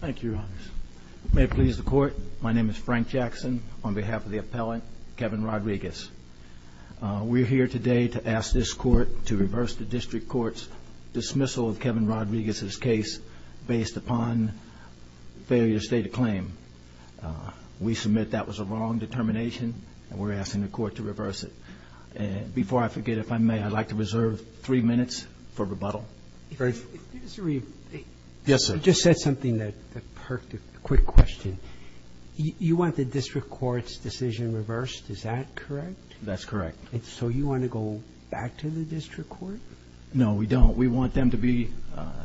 Thank you, Your Honors. May it please the Court, my name is Frank Jackson on behalf of the appellant, Kevin Rodriguez. We're here today to ask this Court to reverse the District Court's dismissal of Kevin Rodriguez's case based upon failure to state a claim. We submit that was a wrong determination and we're asking the Court to reverse it. Before I forget, if I may, I'd like to reserve three minutes for rebuttal. Mr. Reeve. Yes, sir. You just said something that perked a quick question. You want the District Court's decision reversed, is that correct? That's correct. So you want to go back to the District Court? No, we don't. We want them to be,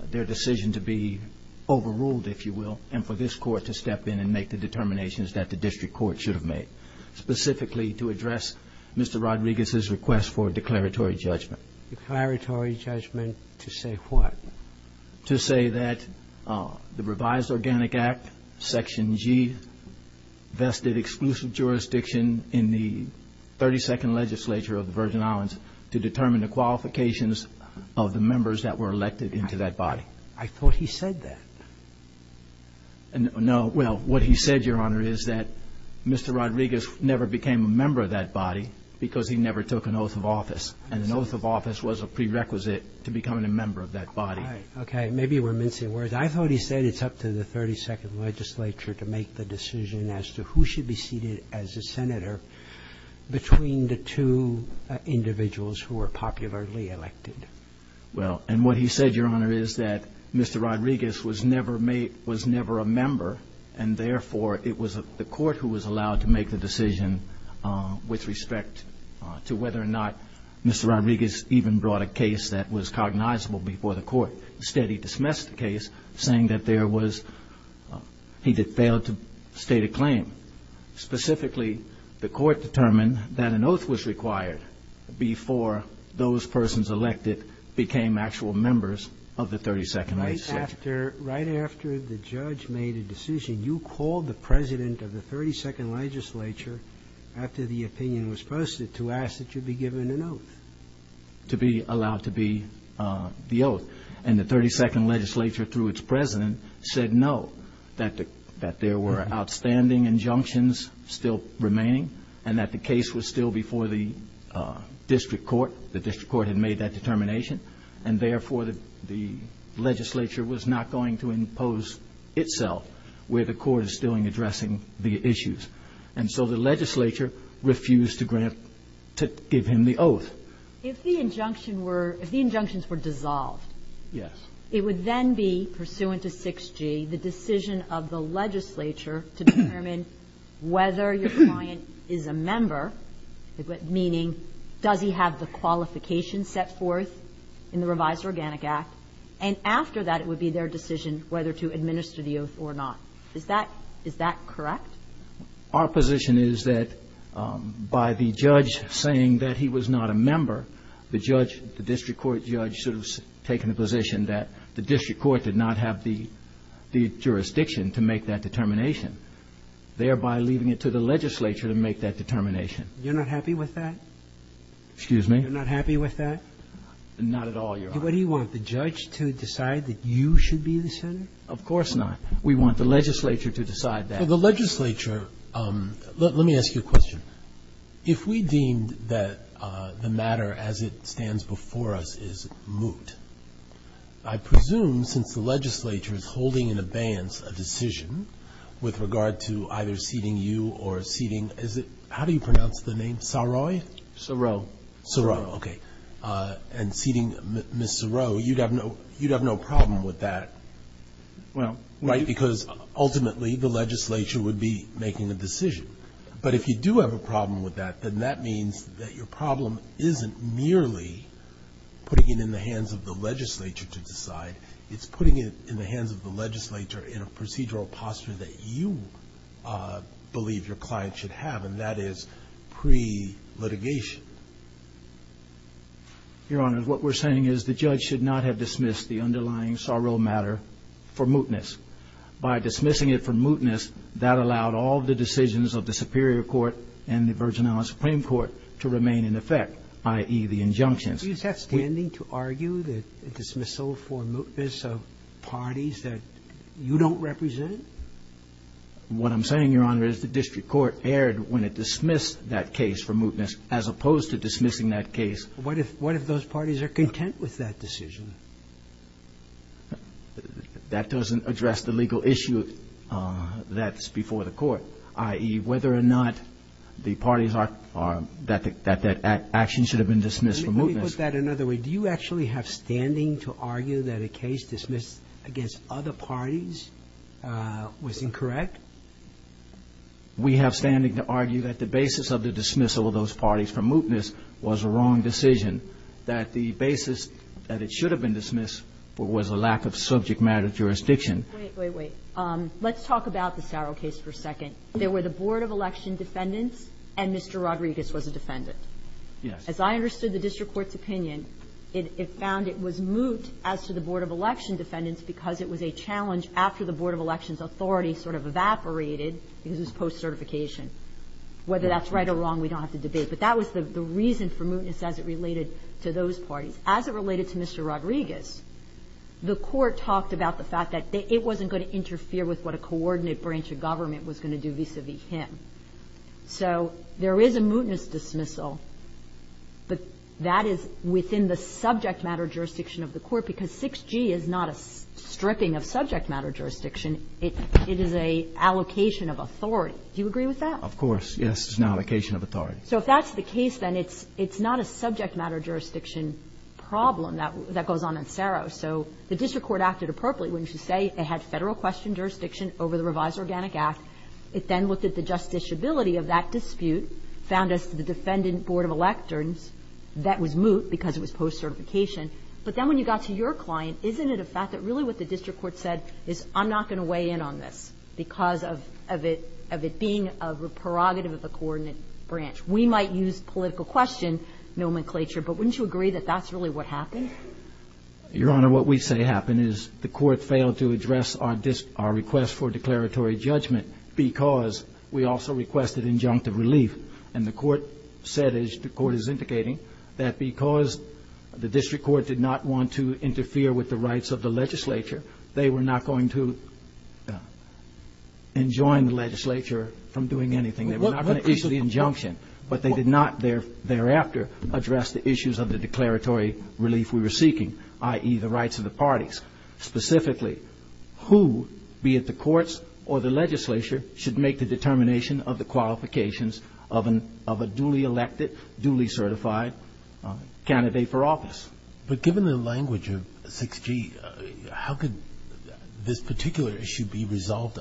their decision to be overruled, if you will, and for this Court to step in and make the determinations that the District Court should have made, specifically to address Mr. Rodriguez's request for declaratory judgment. Declaratory judgment to say what? To say that the revised Organic Act, Section G, vested exclusive jurisdiction in the 32nd legislature of the Virgin Islands to determine the qualifications of the members that were elected into that body. I thought he said that. No. Well, what he said, Your Honor, is that Mr. Rodriguez never became a member of that body because he never took an oath of office. And an oath of office was a prerequisite to becoming a member of that body. Okay. Maybe we're mincing words. I thought he said it's up to the 32nd legislature to make the decision as to who should be seated as a senator between the two individuals who were popularly elected. Well, and what he said, Your Honor, is that Mr. Rodriguez was never made, was never a member, and therefore, it was the court who was allowed to make the decision with respect to whether or not Mr. Rodriguez even brought a case that was cognizable before the court. Instead, he dismissed the case, saying that there was he had failed to state a claim. Specifically, the court determined that an oath was required before those persons elected became actual members of the 32nd legislature. Right after the judge made a decision, you called the president of the 32nd legislature after the opinion was posted to ask that you be given an oath. To be allowed to be the oath. And the 32nd legislature, through its president, said no, that there were outstanding injunctions still remaining and that the case was still before the district court. The district court had made that determination. And therefore, the legislature was not going to impose itself where the court is still in addressing the issues. And so the legislature refused to grant, to give him the oath. If the injunction were, if the injunctions were dissolved. Yes. It would then be pursuant to 6G, the decision of the legislature to determine whether your client is a member, meaning does he have the qualifications set forth in the revised Organic Act. And after that, it would be their decision whether to administer the oath or not. Is that correct? Our position is that by the judge saying that he was not a member, the judge, the district court judge sort of has taken the position that the district court did not have the jurisdiction to make that determination, thereby leaving it to the legislature to make that determination. You're not happy with that? Excuse me? You're not happy with that? Not at all, Your Honor. Do you want the judge to decide that you should be the senator? Of course not. We want the legislature to decide that. For the legislature, let me ask you a question. If we deemed that the matter as it stands before us is moot, I presume since the legislature is holding in abeyance a decision with regard to either seating you or seating, is it, how do you pronounce the name, Saroy? Saroy. Saroy, okay. And seating Ms. Saroy, you'd have no problem with that, right, because ultimately the legislature would be making a decision. But if you do have a problem with that, then that means that your problem isn't merely putting it in the hands of the legislature to decide. It's putting it in the hands of the legislature in a procedural posture that you believe your client should have, and that is pre-litigation. Your Honor, what we're saying is the judge should not have dismissed the underlying Saroy matter for mootness. By dismissing it for mootness, that allowed all the decisions of the Superior Court and the Virgin Island Supreme Court to remain in effect, i.e., the injunctions. Are you standing to argue that a dismissal for mootness of parties that you don't represent? What I'm saying, Your Honor, is the district court erred when it dismissed that case for mootness as opposed to dismissing that case. What if those parties are content with that decision? That doesn't address the legal issue that's before the Court, i.e., whether or not the parties are that that action should have been dismissed for mootness. Let me put that another way. Do you actually have standing to argue that a case dismissed against other parties was incorrect? We have standing to argue that the basis of the dismissal of those parties for mootness was a wrong decision, that the basis that it should have been dismissed was a lack of subject matter jurisdiction. Wait, wait, wait. Let's talk about the Saroy case for a second. There were the board of election defendants and Mr. Rodriguez was a defendant. Yes. As I understood the district court's opinion, it found it was moot as to the board of election defendants because it was a challenge after the board of elections authority sort of evaporated because it was post-certification. Whether that's right or wrong, we don't have to debate. But that was the reason for mootness as it related to those parties. As it related to Mr. Rodriguez, the Court talked about the fact that it wasn't going to interfere with what a coordinate branch of government was going to do vis-a-vis him. So there is a mootness dismissal, but that is within the subject matter jurisdiction of the Court because 6G is not a stripping of subject matter jurisdiction. It is an allocation of authority. Do you agree with that? Of course. Yes, it's an allocation of authority. So if that's the case, then it's not a subject matter jurisdiction problem that goes on in CERO. So the district court acted appropriately, wouldn't you say? It had Federal question jurisdiction over the revised Organic Act. It then looked at the justiciability of that dispute, found as to the defendant board of electors that was moot because it was post-certification. But then when you got to your client, isn't it a fact that really what the district court said is I'm not going to weigh in on this because of it being a prerogative of the coordinate branch? We might use political question nomenclature, but wouldn't you agree that that's really what happened? Your Honor, what we say happened is the Court failed to address our request for declaratory judgment because we also requested injunctive relief. And the Court said, as the Court is indicating, that because the district court did not want to interfere with the rights of the legislature, they were not going to enjoin the legislature from doing anything. They were not going to issue the injunction. But they did not thereafter address the issues of the declaratory relief we were seeking, i.e., the rights of the parties. Specifically, who, be it the courts or the legislature, should make the determination of the qualifications of a duly elected, duly certified candidate for office. But given the language of 6G, how could this particular issue be resolved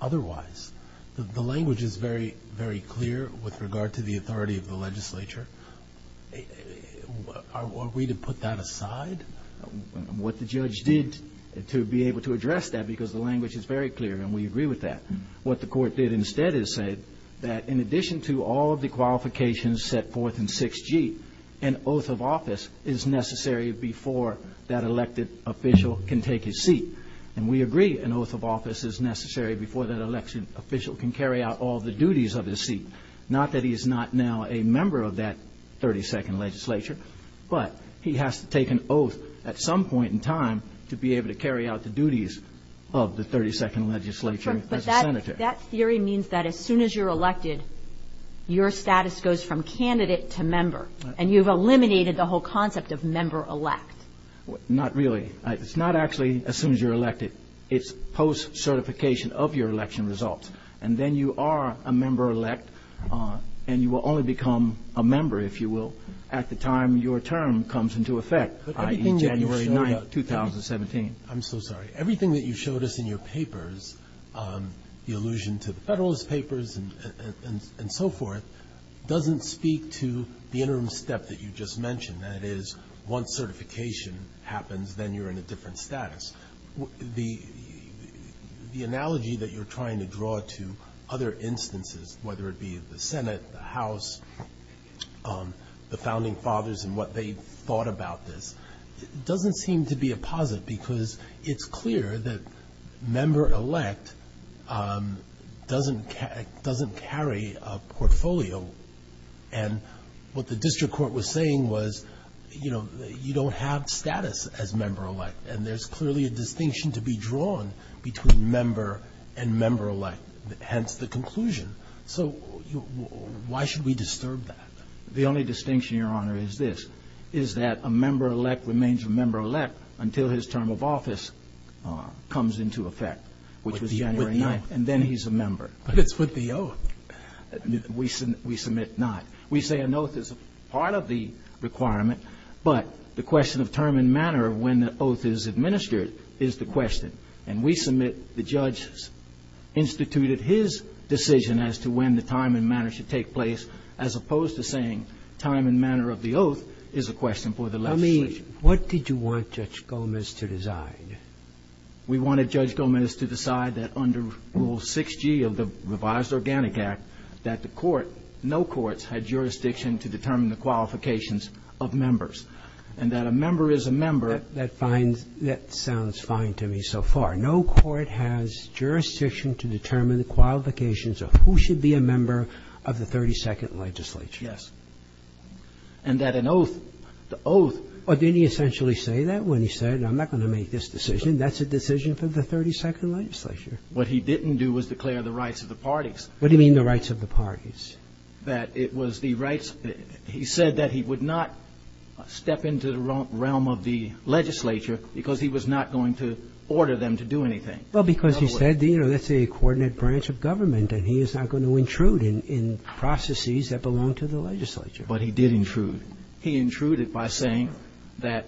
otherwise? The language is very, very clear with regard to the authority of the legislature. Are we to put that aside? What the judge did to be able to address that, because the language is very clear and we agree with that, what the Court did instead is say that in addition to all of the qualifications set forth in 6G, an oath of office is necessary before that elected official can take his seat. And we agree an oath of office is necessary before that elected official can carry out all the duties of his seat. Not that he is not now a member of that 32nd legislature, but he has to take an oath at some point in time to be able to carry out the duties of the 32nd legislature as a senator. But that theory means that as soon as you're elected, your status goes from candidate to member, and you've eliminated the whole concept of member-elect. Not really. It's not actually as soon as you're elected. It's post-certification of your election results. And then you are a member-elect, and you will only become a member, if you will, at the time your term comes into effect, i.e., January 9th, 2017. I'm so sorry. Everything that you showed us in your papers, the allusion to the Federalist Papers and so forth, doesn't speak to the interim step that you just mentioned, i.e., once certification happens, then you're in a different status. The analogy that you're trying to draw to other instances, whether it be the Senate, the House, the Founding Fathers and what they thought about this, doesn't seem to be a posit because it's clear that member-elect doesn't carry a portfolio. And what the district court was saying was you don't have status as member-elect, and there's clearly a distinction to be drawn between member and member-elect, hence the conclusion. So why should we disturb that? The only distinction, Your Honor, is this, is that a member-elect remains a member-elect until his term of office comes into effect, which was January 9th, and then he's a member. But it's with the oath. We submit not. We say an oath is part of the requirement, but the question of term and manner when the oath is administered is the question. And we submit the judge's instituted his decision as to when the time and manner should take place, as opposed to saying time and manner of the oath is a question for the legislation. I mean, what did you want Judge Gomez to decide? We wanted Judge Gomez to decide that under Rule 6g of the Revised Organic Act, that the court, no courts, had jurisdiction to determine the qualifications of members, and that a member is a member. That sounds fine to me so far. No court has jurisdiction to determine the qualifications of who should be a member of the 32nd legislature. Yes. And that an oath, the oath. Well, didn't he essentially say that when he said I'm not going to make this decision? That's a decision for the 32nd legislature. What he didn't do was declare the rights of the parties. What do you mean the rights of the parties? That it was the rights. He said that he would not step into the realm of the legislature because he was not going to order them to do anything. Well, because he said, you know, that's a coordinate branch of government, and he is not going to intrude in processes that belong to the legislature. But he did intrude. He intruded by saying that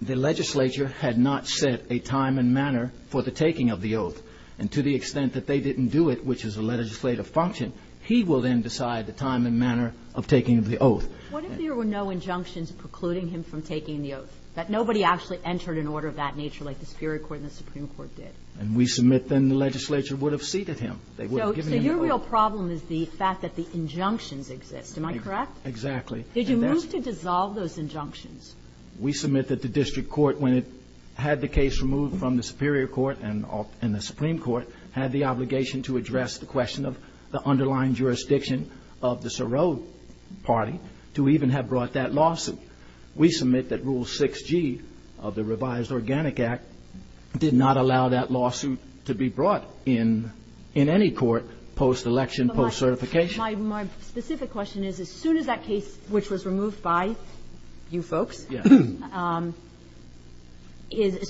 the legislature had not set a time and manner for the taking of the oath. And to the extent that they didn't do it, which is a legislative function, he will then decide the time and manner of taking the oath. What if there were no injunctions precluding him from taking the oath, that nobody actually entered an order of that nature like the Superior Court and the Supreme Court did? And we submit then the legislature would have seated him. They would have given him the oath. So your real problem is the fact that the injunctions exist. Am I correct? Exactly. Did you move to dissolve those injunctions? We submit that the district court, when it had the case removed from the Superior Court and the Supreme Court, had the obligation to address the question of the underlying jurisdiction of the Sarov party to even have brought that lawsuit. We submit that Rule 6g of the Revised Organic Act did not allow that lawsuit to be brought in in any court post-election, post-certification. My specific question is, as soon as that case, which was removed by you folks, as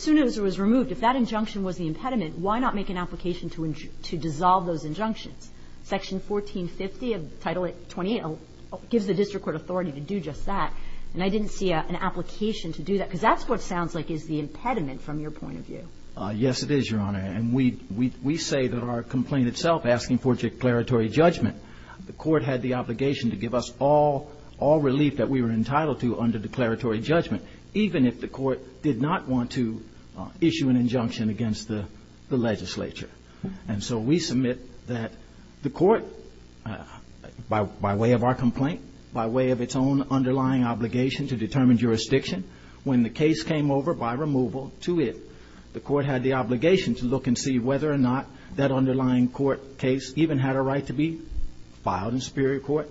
soon as it was removed, if that injunction was the impediment, why not make an application to dissolve those injunctions? Section 1450 of Title 28 gives the district court authority to do just that. And I didn't see an application to do that, because that's what sounds like is the impediment from your point of view. Yes, it is, Your Honor. And we say that our complaint itself, asking for declaratory judgment, the court had the obligation to give us all relief that we were entitled to under declaratory judgment, even if the court did not want to issue an injunction against the legislature. And so we submit that the court, by way of our complaint, by way of its own underlying obligation to determine jurisdiction, when the case came over by removal to it, the district court had the obligation to look and see whether or not that underlying court case even had a right to be filed in superior court.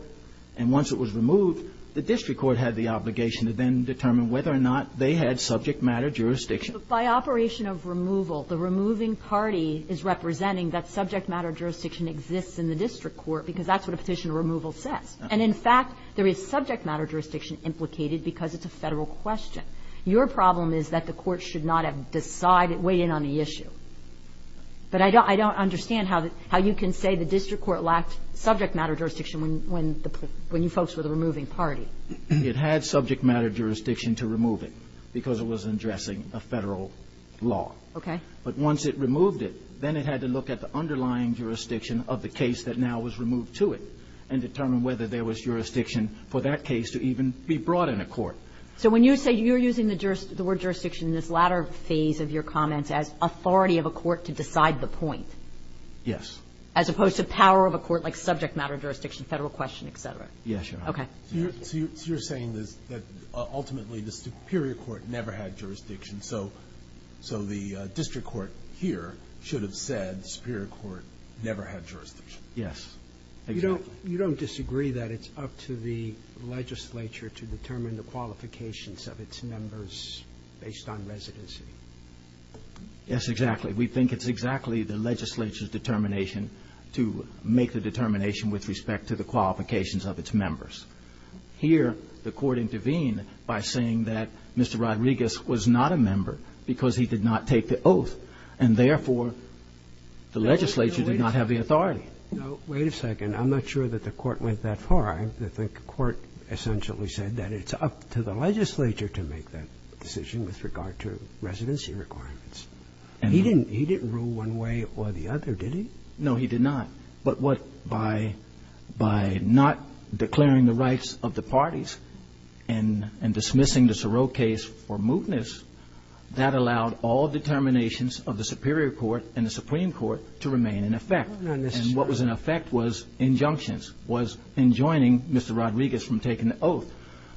And once it was removed, the district court had the obligation to then determine whether or not they had subject matter jurisdiction. But by operation of removal, the removing party is representing that subject matter jurisdiction exists in the district court, because that's what a petition of removal says. And in fact, there is subject matter jurisdiction implicated because it's a Federal question. Your problem is that the court should not have decided, weighed in on the issue. But I don't understand how you can say the district court lacked subject matter jurisdiction when you folks were the removing party. It had subject matter jurisdiction to remove it, because it was addressing a Federal law. Okay. But once it removed it, then it had to look at the underlying jurisdiction of the case that now was removed to it and determine whether there was jurisdiction for that case to even be brought in a court. So when you say you're using the word jurisdiction in this latter phase of your comments as authority of a court to decide the point. Yes. As opposed to power of a court like subject matter jurisdiction, Federal question, et cetera. Yes, Your Honor. Okay. So you're saying that ultimately the superior court never had jurisdiction. So the district court here should have said the superior court never had jurisdiction. Yes. Exactly. You don't disagree that it's up to the legislature to determine the qualifications of its members based on residency? Yes, exactly. We think it's exactly the legislature's determination to make the determination with respect to the qualifications of its members. Here, the court intervened by saying that Mr. Rodriguez was not a member because he did not take the oath, and therefore, the legislature did not have the authority. Wait a second. I'm not sure that the court went that far. I think the court essentially said that it's up to the legislature to make that decision with regard to residency requirements. He didn't rule one way or the other, did he? No, he did not. But what by not declaring the rights of the parties and dismissing the Sorrell case for mootness, that allowed all determinations of the superior court and the supreme court to remain in effect. And what was in effect was injunctions, was enjoining Mr. Rodriguez from taking the oath.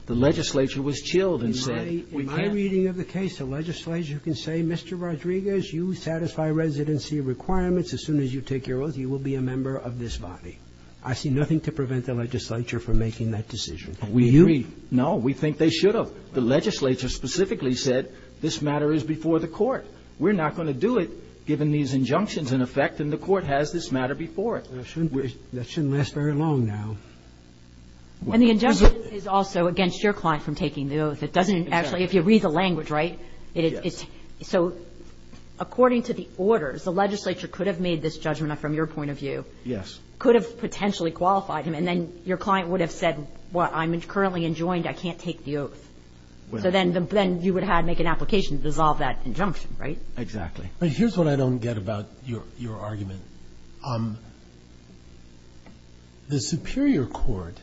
The legislature was chilled and said, we can't. In my reading of the case, the legislature can say, Mr. Rodriguez, you satisfy residency requirements. As soon as you take your oath, you will be a member of this body. I see nothing to prevent the legislature from making that decision. We agree. No, we think they should have. The legislature specifically said, this matter is before the court. We're not going to do it given these injunctions in effect, and the court has this matter before it. That shouldn't last very long now. And the injunction is also against your client from taking the oath. It doesn't actually, if you read the language, right? So according to the orders, the legislature could have made this judgment from your point of view. Yes. Could have potentially qualified him, and then your client would have said, well, I'm currently enjoined. I can't take the oath. So then you would have to make an application to dissolve that injunction, right? Exactly. But here's what I don't get about your argument. The Superior Court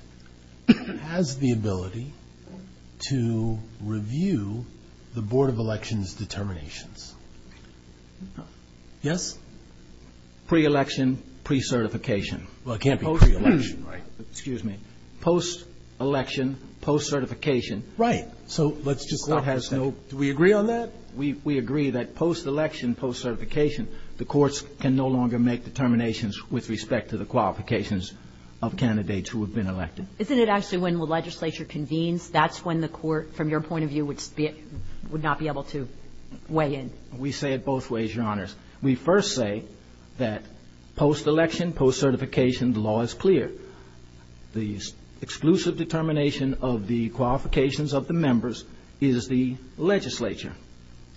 has the ability to review the Board of Elections' determinations. Yes? Pre-election, pre-certification. Well, it can't be pre-election, right? Excuse me. Post-election, post-certification. Right. So let's just let this go. Do we agree on that? We agree that post-election, post-certification, the courts can no longer make determinations with respect to the qualifications of candidates who have been elected. Isn't it actually when the legislature convenes, that's when the court, from your point of view, would not be able to weigh in? We say it both ways, Your Honors. We first say that post-election, post-certification, the law is clear. The exclusive determination of the qualifications of the members is the legislature.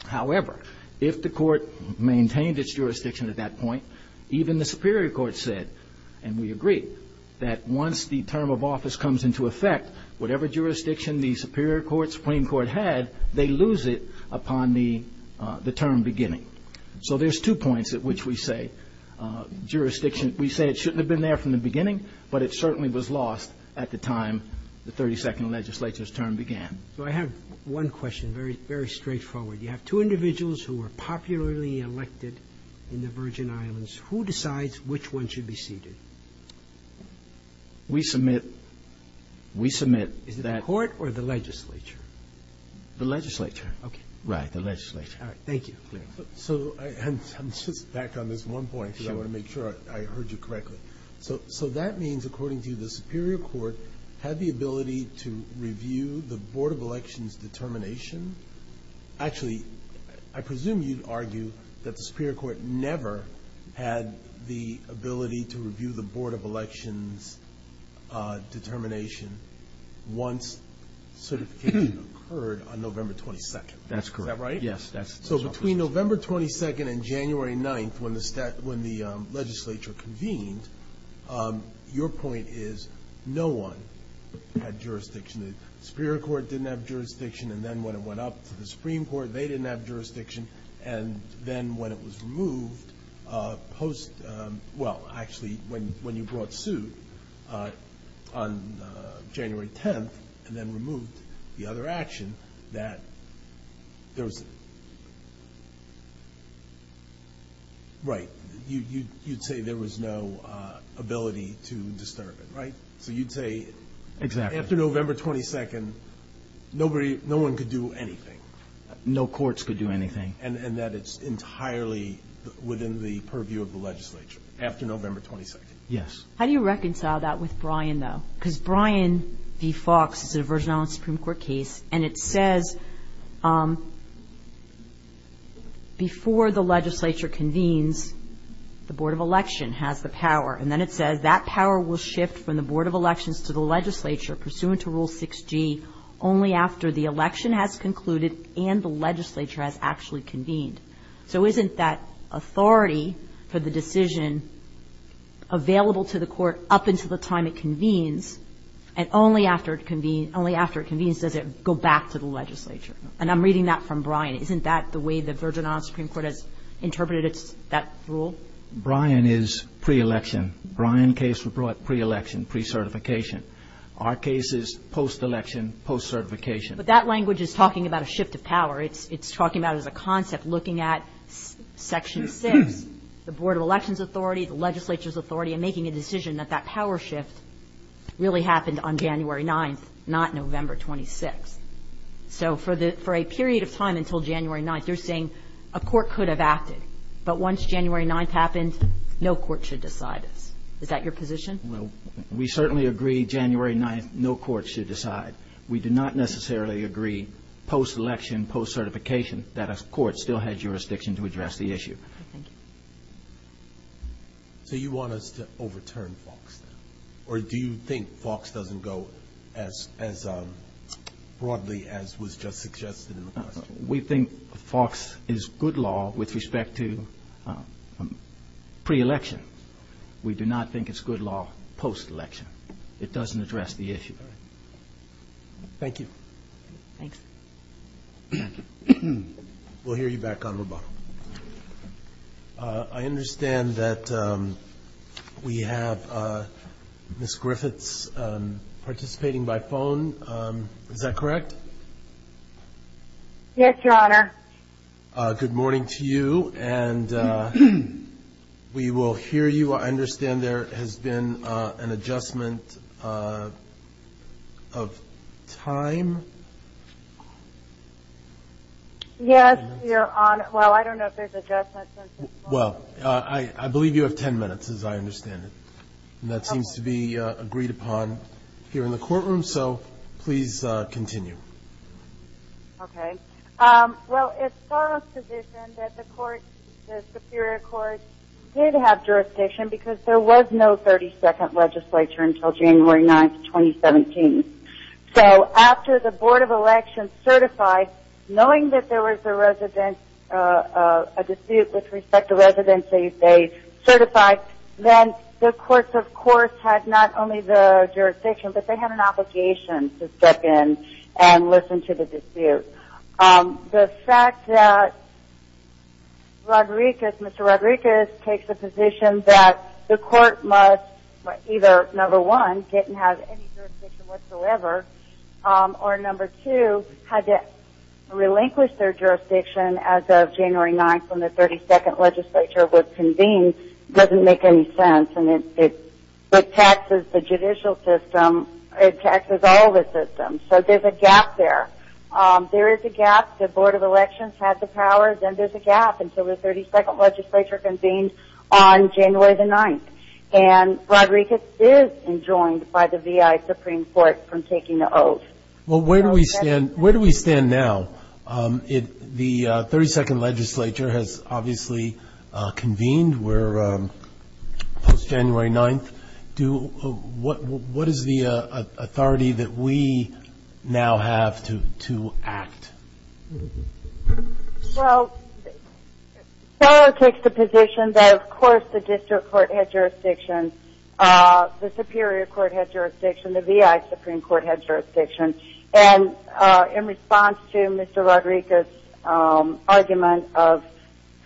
However, if the court maintained its jurisdiction at that point, even the Superior Court said, and we agree, that once the term of office comes into effect, whatever jurisdiction the Superior Court, Supreme Court had, they lose it upon the term beginning. So there's two points at which we say jurisdiction, we say it shouldn't have been there from the beginning, but it certainly was lost at the time the 32nd legislature's term began. So I have one question, very straightforward. You have two individuals who were popularly elected in the Virgin Islands. Who decides which one should be seated? We submit, we submit that Is it the court or the legislature? The legislature. Okay. Right, the legislature. All right, thank you. So I'm just back on this one point because I want to make sure I heard you correctly. So that means, according to you, the Superior Court had the ability to review the Board of Elections determination. Actually, I presume you'd argue that the Superior Court never had the ability to review the Board of Elections determination once certification occurred on November 22nd. That's correct. Is that right? Yes. So between November 22nd and January 9th, when the legislature convened, your point is no one had jurisdiction. The Superior Court didn't have jurisdiction, and then when it went up to the Supreme Court, they didn't have jurisdiction. And then when it was removed post, well, actually, when you brought suit on January 10th, and then removed the other action, that there was... Right, you'd say there was no ability to disturb it, right? So you'd say... Exactly. After November 22nd, nobody, no one could do anything. No courts could do anything. And that it's entirely within the purview of the legislature after November 22nd. Yes. How do you reconcile that with Bryan, though? Because Bryan v. Fox is a version of a Supreme Court case, and it says before the legislature convenes, the Board of Election has the power. And then it says that power will shift from the Board of Elections to the legislature pursuant to Rule 6G only after the election has concluded and the legislature has actually convened. So isn't that authority for the decision available to the court up until the time it convenes, and only after it convenes does it go back to the legislature? And I'm reading that from Bryan. Isn't that the way the version of the Supreme Court has interpreted that rule? Bryan is pre-election. Bryan case was brought pre-election, pre-certification. Our case is post-election, post-certification. But that language is talking about a shift of power. It's talking about it as a concept, looking at Section 6, the Board of Elections Authority, the legislature's authority, and making a decision that that power shift really happened on January 9th, not November 26th. So for a period of time until January 9th, you're saying a court could have acted, but once January 9th happened, no court should decide this. Is that your position? Well, we certainly agree January 9th, no court should decide. We do not necessarily agree post-election, post-certification, that a court still has jurisdiction to address the issue. Thank you. So you want us to overturn FOX, or do you think FOX doesn't go as broadly as was just suggested in the question? We think FOX is good law with respect to pre-election. We do not think it's good law post-election. It doesn't address the issue. All right. Thank you. Thanks. We'll hear you back on Roboto. I understand that we have Ms. Griffiths participating by phone. Is that correct? Yes, Your Honor. Good morning to you. And we will hear you. I understand there has been an adjustment of time. Yes, Your Honor. Well, I don't know if there's adjustments. Well, I believe you have ten minutes, as I understand it. And that seems to be agreed upon here in the courtroom, so please continue. Okay. Well, it's our position that the Superior Court did have jurisdiction, because there was no 32nd legislature until January 9th, 2017. So after the Board of Elections certified, knowing that there was a dispute with respect to residency, they certified, then the courts, of course, had not only the jurisdiction, but they had an obligation to step in and listen to the dispute. The fact that Mr. Rodriguez takes the position that the court must either, number one, get and have any jurisdiction whatsoever, or number two, had to relinquish their jurisdiction as of January 9th when the 32nd legislature was convened, doesn't make any sense, and it taxes the judicial system. It taxes all the systems. So there's a gap there. There is a gap. The Board of Elections had the powers, and there's a gap until the 32nd legislature convened on January 9th. And Rodriguez is enjoined by the V.I. Supreme Court from taking the oath. Well, where do we stand now? The 32nd legislature has obviously convened. We're post-January 9th. What is the authority that we now have to act? Well, Seller takes the position that, of course, the district court had jurisdiction, the superior court had jurisdiction, the V.I. Supreme Court had jurisdiction, and in response to Mr. Rodriguez's argument of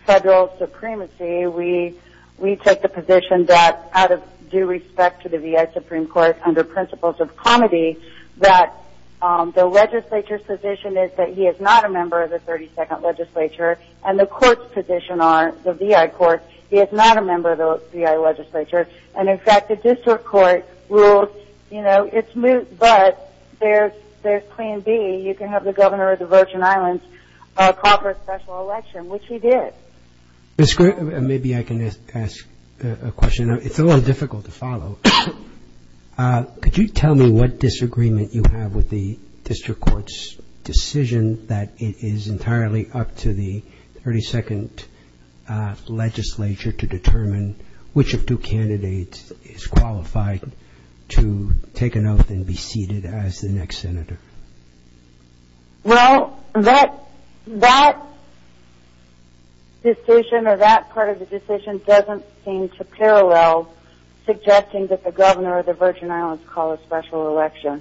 federal supremacy, we took the position that out of due respect to the V.I. Supreme Court under principles of comity, that the legislature's position is that he is not a member of the 32nd legislature, and the court's position on the V.I. Court, he is not a member of the V.I. legislature. And, in fact, the district court ruled, you know, it's moot, but there's plan B. You can have the governor of the Virgin Islands call for a special election, which he did. Maybe I can ask a question. It's a little difficult to follow. Could you tell me what disagreement you have with the district court's decision that it is entirely up to the 32nd legislature to determine which of two candidates is qualified to take an oath and be seated as the next senator? Well, that decision or that part of the decision doesn't seem to parallel suggesting that the governor of the Virgin Islands call a special election.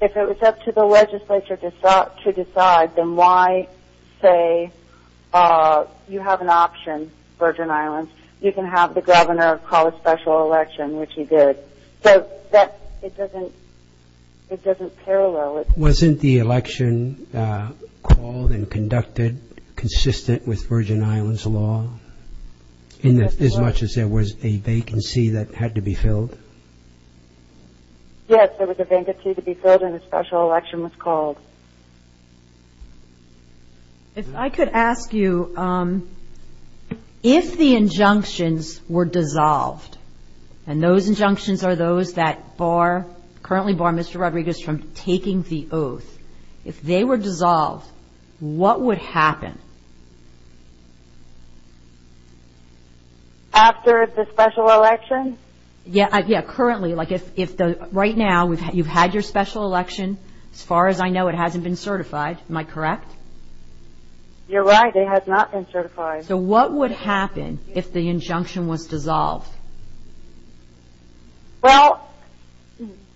If it was up to the legislature to decide, then why say you have an option, Virgin Islands, you can have the governor call a special election, which he did. So it doesn't parallel. Wasn't the election called and conducted consistent with Virgin Islands law, as much as there was a vacancy that had to be filled? Yes, there was a vacancy to be filled and a special election was called. If I could ask you, if the injunctions were dissolved, and those injunctions are those that currently bar Mr. Rodriguez from taking the oath, if they were dissolved, what would happen? After the special election? Yes, currently. Right now, you've had your special election. As far as I know, it hasn't been certified. Am I correct? You're right. It has not been certified. So what would happen if the injunction was dissolved? Well,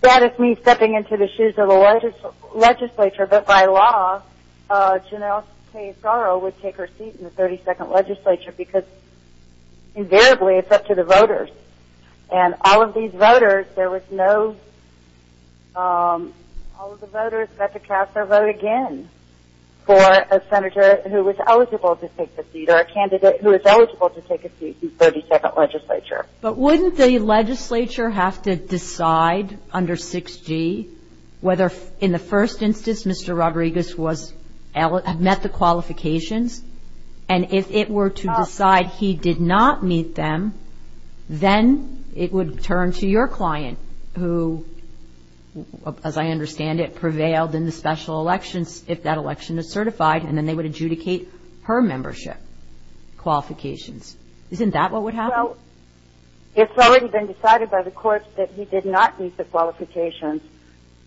that is me stepping into the shoes of the legislature, but by law, Janelle Kaye Sorrow would take her seat in the 32nd legislature because invariably it's up to the voters. And all of these voters, there was no – all of the voters got to cast their vote again for a senator who was eligible to take the seat or a candidate who was eligible to take a seat in the 32nd legislature. But wouldn't the legislature have to decide under 6G whether in the first instance Mr. Rodriguez had met the qualifications? And if it were to decide he did not meet them, then it would turn to your client who, as I understand it, prevailed in the special elections if that election is certified, and then they would adjudicate her membership qualifications. Isn't that what would happen? Well, it's already been decided by the courts that he did not meet the qualifications,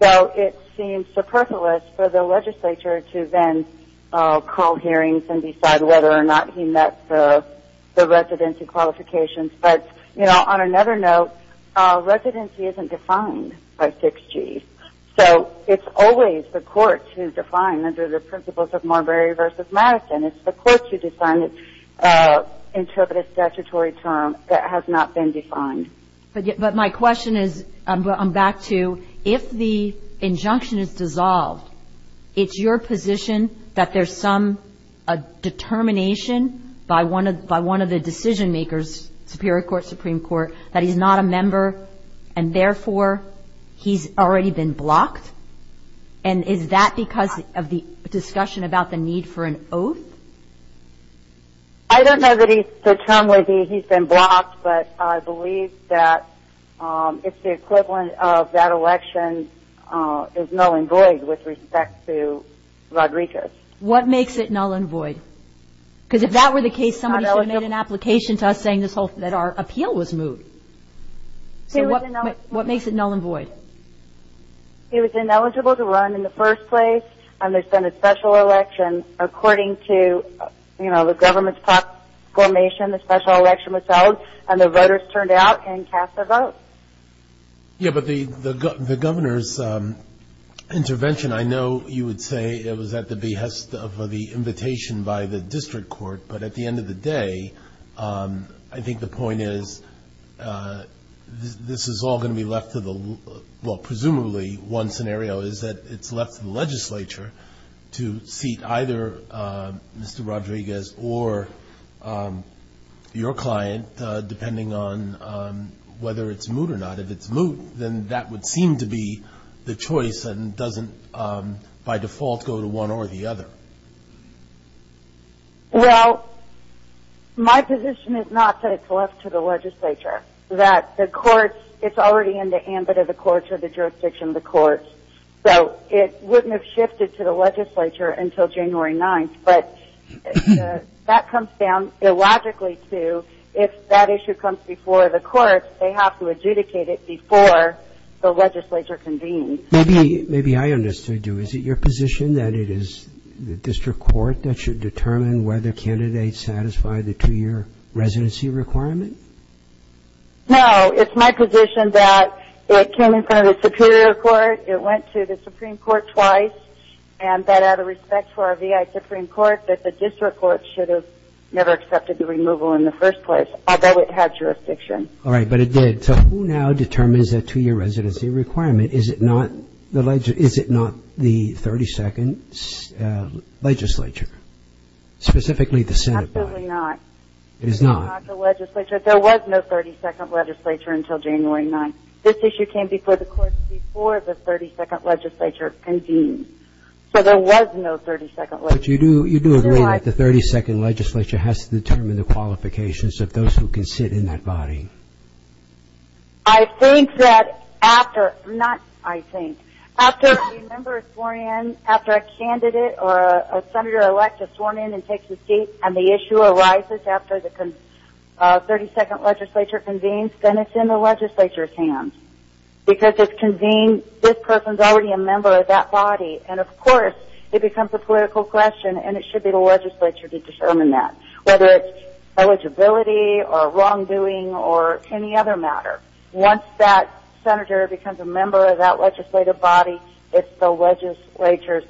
so it seems superfluous for the legislature to then call hearings and decide whether or not he met the residency qualifications. But, you know, on another note, residency isn't defined by 6G. So it's always the courts who define under the principles of Marbury v. Madison. It's the courts who define it, interpret a statutory term that has not been defined. But my question is, I'm back to, if the injunction is dissolved, it's your position that there's some determination by one of the decision-makers, Superior Court, Supreme Court, that he's not a member and therefore he's already been blocked? And is that because of the discussion about the need for an oath? I don't know that the term would be he's been blocked, but I believe that it's the equivalent of that election is null and void with respect to Rodriguez. What makes it null and void? Because if that were the case, somebody should have made an application to us saying that our appeal was moved. So what makes it null and void? He was ineligible to run in the first place, and there's been a special election. According to, you know, the government's proclamation, the special election was held, and the voters turned out and cast their vote. Yeah, but the governor's intervention, I know you would say it was at the behest of the invitation by the district court. But at the end of the day, I think the point is this is all going to be left to the, well, presumably one scenario is that it's left to the legislature to seat either Mr. Rodriguez or your client depending on whether it's moot or not. If it's moot, then that would seem to be the choice and doesn't by default go to one or the other. Well, my position is not that it's left to the legislature, that the courts, it's already in the ambit of the courts or the jurisdiction of the courts. So it wouldn't have shifted to the legislature until January 9th, but that comes down illogically to if that issue comes before the courts, they have to adjudicate it before the legislature convenes. Maybe I understood you. Is it your position that it is the district court that should determine whether candidates satisfy the two-year residency requirement? No. It's my position that it came in front of the superior court, it went to the Supreme Court twice, and that out of respect for our VI Supreme Court, that the district court should have never accepted the removal in the first place, although it had jurisdiction. All right, but it did. So who now determines that two-year residency requirement? Is it not the 32nd legislature, specifically the Senate? Absolutely not. It is not? It is not the legislature. There was no 32nd legislature until January 9th. This issue came before the courts before the 32nd legislature convened. So there was no 32nd legislature. But you do agree that the 32nd legislature has to determine the qualifications of those who can sit in that body. I think that after, not I think, after a member is sworn in, after a candidate or a senator-elect is sworn in and takes the seat and the issue arises after the 32nd legislature convenes, then it's in the legislature's hands. Because if it's convened, this person is already a member of that body. And, of course, it becomes a political question, and it should be the legislature to determine that, whether it's eligibility or wrongdoing or any other matter. Once that senator becomes a member of that legislative body, it's the legislature's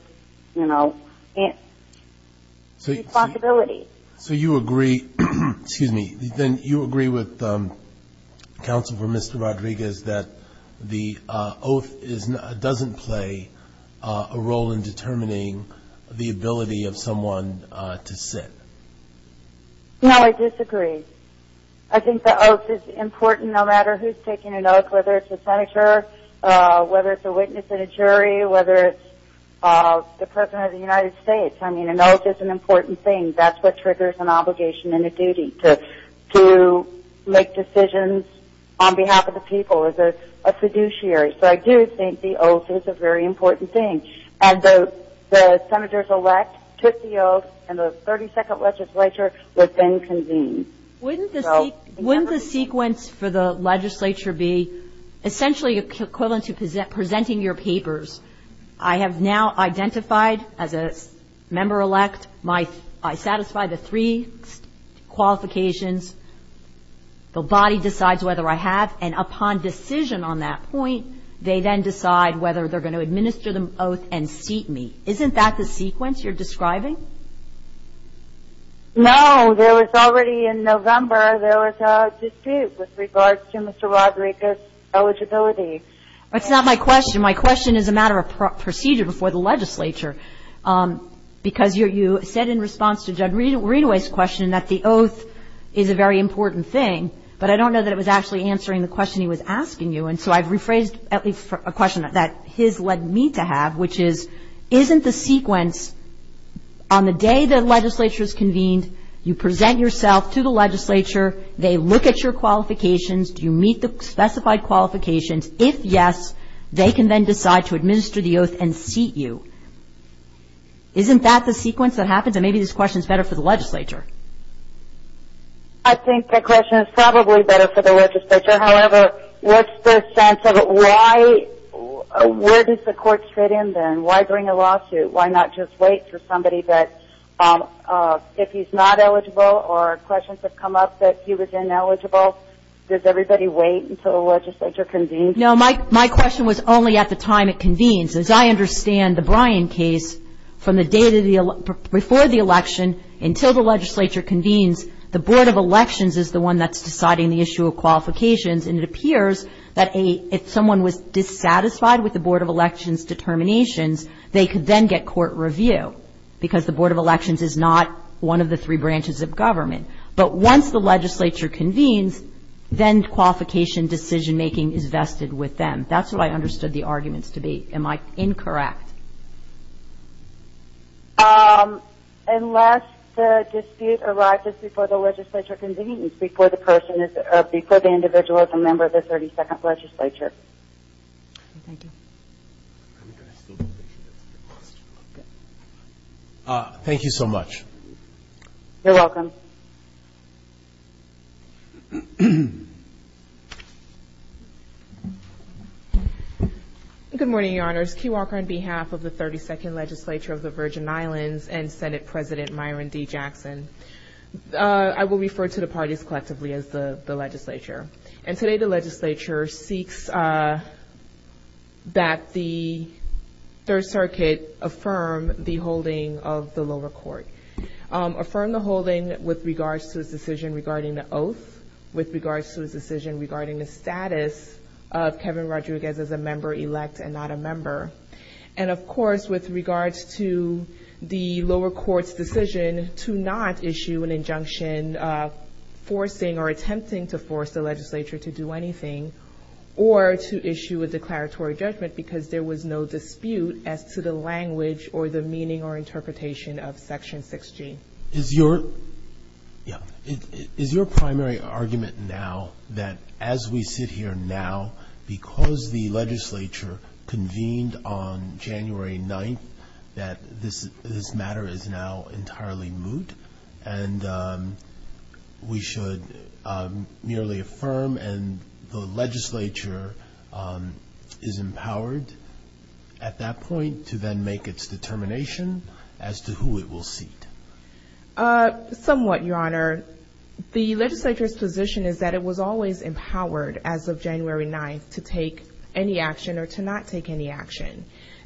responsibility. So you agree with Counsel for Mr. Rodriguez that the oath doesn't play a role in determining the ability of someone to sit? No, I disagree. I think the oath is important no matter who is taking an oath, whether it's a senator, whether it's a witness and a jury, whether it's the President of the United States. I mean, an oath is an important thing. That's what triggers an obligation and a duty to make decisions on behalf of the people as a fiduciary. So I do think the oath is a very important thing. And the senators-elect took the oath, and the 32nd legislature was then convened. Wouldn't the sequence for the legislature be essentially equivalent to presenting your papers? I have now identified as a member-elect. I satisfy the three qualifications. The body decides whether I have, and upon decision on that point, they then decide whether they're going to administer the oath and seat me. Isn't that the sequence you're describing? No. There was already in November, there was a dispute with regards to Mr. Rodriguez's eligibility. That's not my question. My question is a matter of procedure before the legislature, because you said in response to Judd Readaway's question that the oath is a very important thing, but I don't know that it was actually answering the question he was asking you. And so I've rephrased a question that his led me to have, which is isn't the sequence on the day the legislature is convened, you present yourself to the legislature, they look at your qualifications, do you meet the specified qualifications? If yes, they can then decide to administer the oath and seat you. Isn't that the sequence that happens? And maybe this question is better for the legislature. I think the question is probably better for the legislature. However, what's the sense of why, where does the court fit in then? Why bring a lawsuit? Why not just wait for somebody that if he's not eligible or questions have come up that he was ineligible, does everybody wait until the legislature convenes? No, my question was only at the time it convenes. As I understand the Bryan case, from the day before the election until the legislature convenes, the Board of Elections is the one that's deciding the issue of qualifications, and it appears that if someone was dissatisfied with the Board of Elections determinations, they could then get court review because the Board of Elections is not one of the three branches of government. But once the legislature convenes, then qualification decision-making is vested with them. That's what I understood the arguments to be. Am I incorrect? In fact. Unless the dispute arises before the legislature convenes, before the individual is a member of the 32nd legislature. Thank you. Thank you so much. You're welcome. Good morning, Your Honors. Kei Walker on behalf of the 32nd legislature of the Virgin Islands and Senate President Myron D. Jackson. I will refer to the parties collectively as the legislature. And today the legislature seeks that the Third Circuit affirm the holding of the lower court. Affirm the holding with regards to its decision regarding the oath, with regards to its decision regarding the status of Kevin Rodriguez as a member elect and not a member. And, of course, with regards to the lower court's decision to not issue an injunction forcing or attempting to force the legislature to do anything or to issue a declaratory judgment because there was no dispute as to the language or the meaning or interpretation of Section 6G. Is your primary argument now that as we sit here now, because the legislature convened on January 9th, that this matter is now entirely moot and we should merely affirm and the legislature is empowered at that point to then make its determination as to who it will seat? Somewhat, Your Honor. The legislature's position is that it was always empowered as of January 9th to take any action or to not take any action.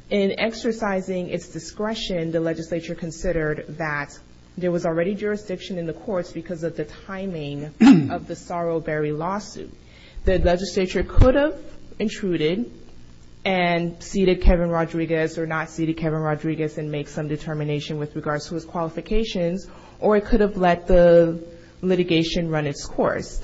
In exercising its discretion, the legislature considered that there was already jurisdiction in the courts because of the timing of the Sorrowberry lawsuit. The legislature could have intruded and seated Kevin Rodriguez or not seated Kevin Rodriguez and make some determination with regards to his qualifications, or it could have let the litigation run its course.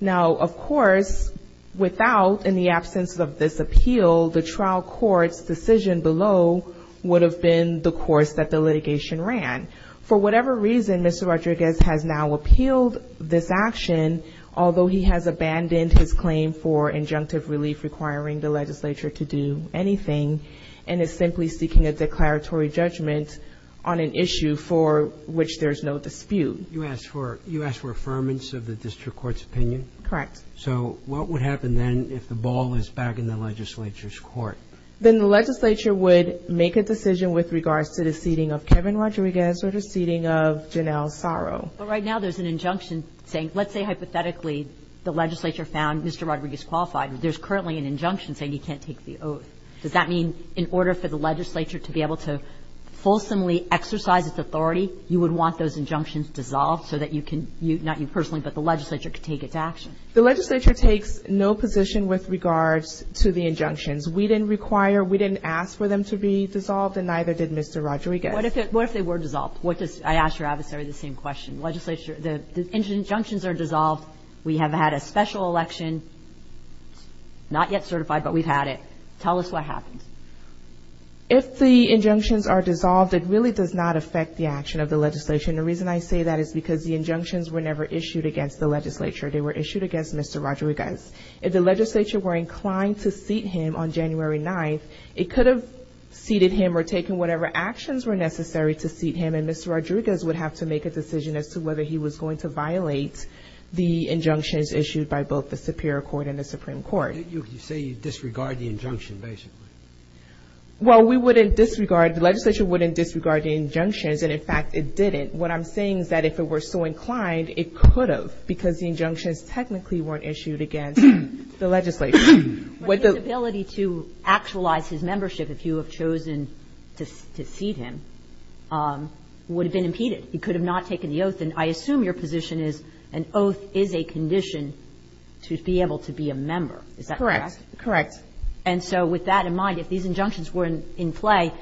Now, of course, without, in the absence of this appeal, the trial court's decision below would have been the course that the litigation ran. For whatever reason, Mr. Rodriguez has now appealed this action, although he has abandoned his claim for injunctive relief requiring the legislature to do anything and is simply seeking a declaratory judgment on an issue for which there's no dispute. You asked for affirmance of the district court's opinion? Correct. So what would happen then if the ball is back in the legislature's court? Then the legislature would make a decision with regards to the seating of Kevin Rodriguez or the seating of Janelle Sorrow. But right now there's an injunction saying, let's say hypothetically the legislature found Mr. Rodriguez qualified. There's currently an injunction saying he can't take the oath. Does that mean in order for the legislature to be able to fulsomely exercise its authority, you would want those injunctions dissolved so that you can, not you personally, but the legislature can take its action? The legislature takes no position with regards to the injunctions. We didn't require, we didn't ask for them to be dissolved, and neither did Mr. Rodriguez. What if they were dissolved? I asked your adversary the same question. Legislature, the injunctions are dissolved. We have had a special election, not yet certified, but we've had it. Tell us what happens. If the injunctions are dissolved, it really does not affect the action of the legislation. The reason I say that is because the injunctions were never issued against the legislature. They were issued against Mr. Rodriguez. If the legislature were inclined to seat him on January 9th, it could have seated him or taken whatever actions were necessary to seat him, and Mr. Rodriguez would have to make a decision as to whether he was going to violate the injunctions issued by both the Superior Court and the Supreme Court. You say you disregard the injunction, basically. Well, we wouldn't disregard, the legislature wouldn't disregard the injunctions, and in fact, it didn't. What I'm saying is that if it were so inclined, it could have, because the injunctions technically weren't issued against the legislature. But his ability to actualize his membership, if you have chosen to seat him, would have been impeded. He could have not taken the oath. And I assume your position is an oath is a condition to be able to be a member. Is that correct? Correct. Correct. And so with that in mind, if these injunctions were in play,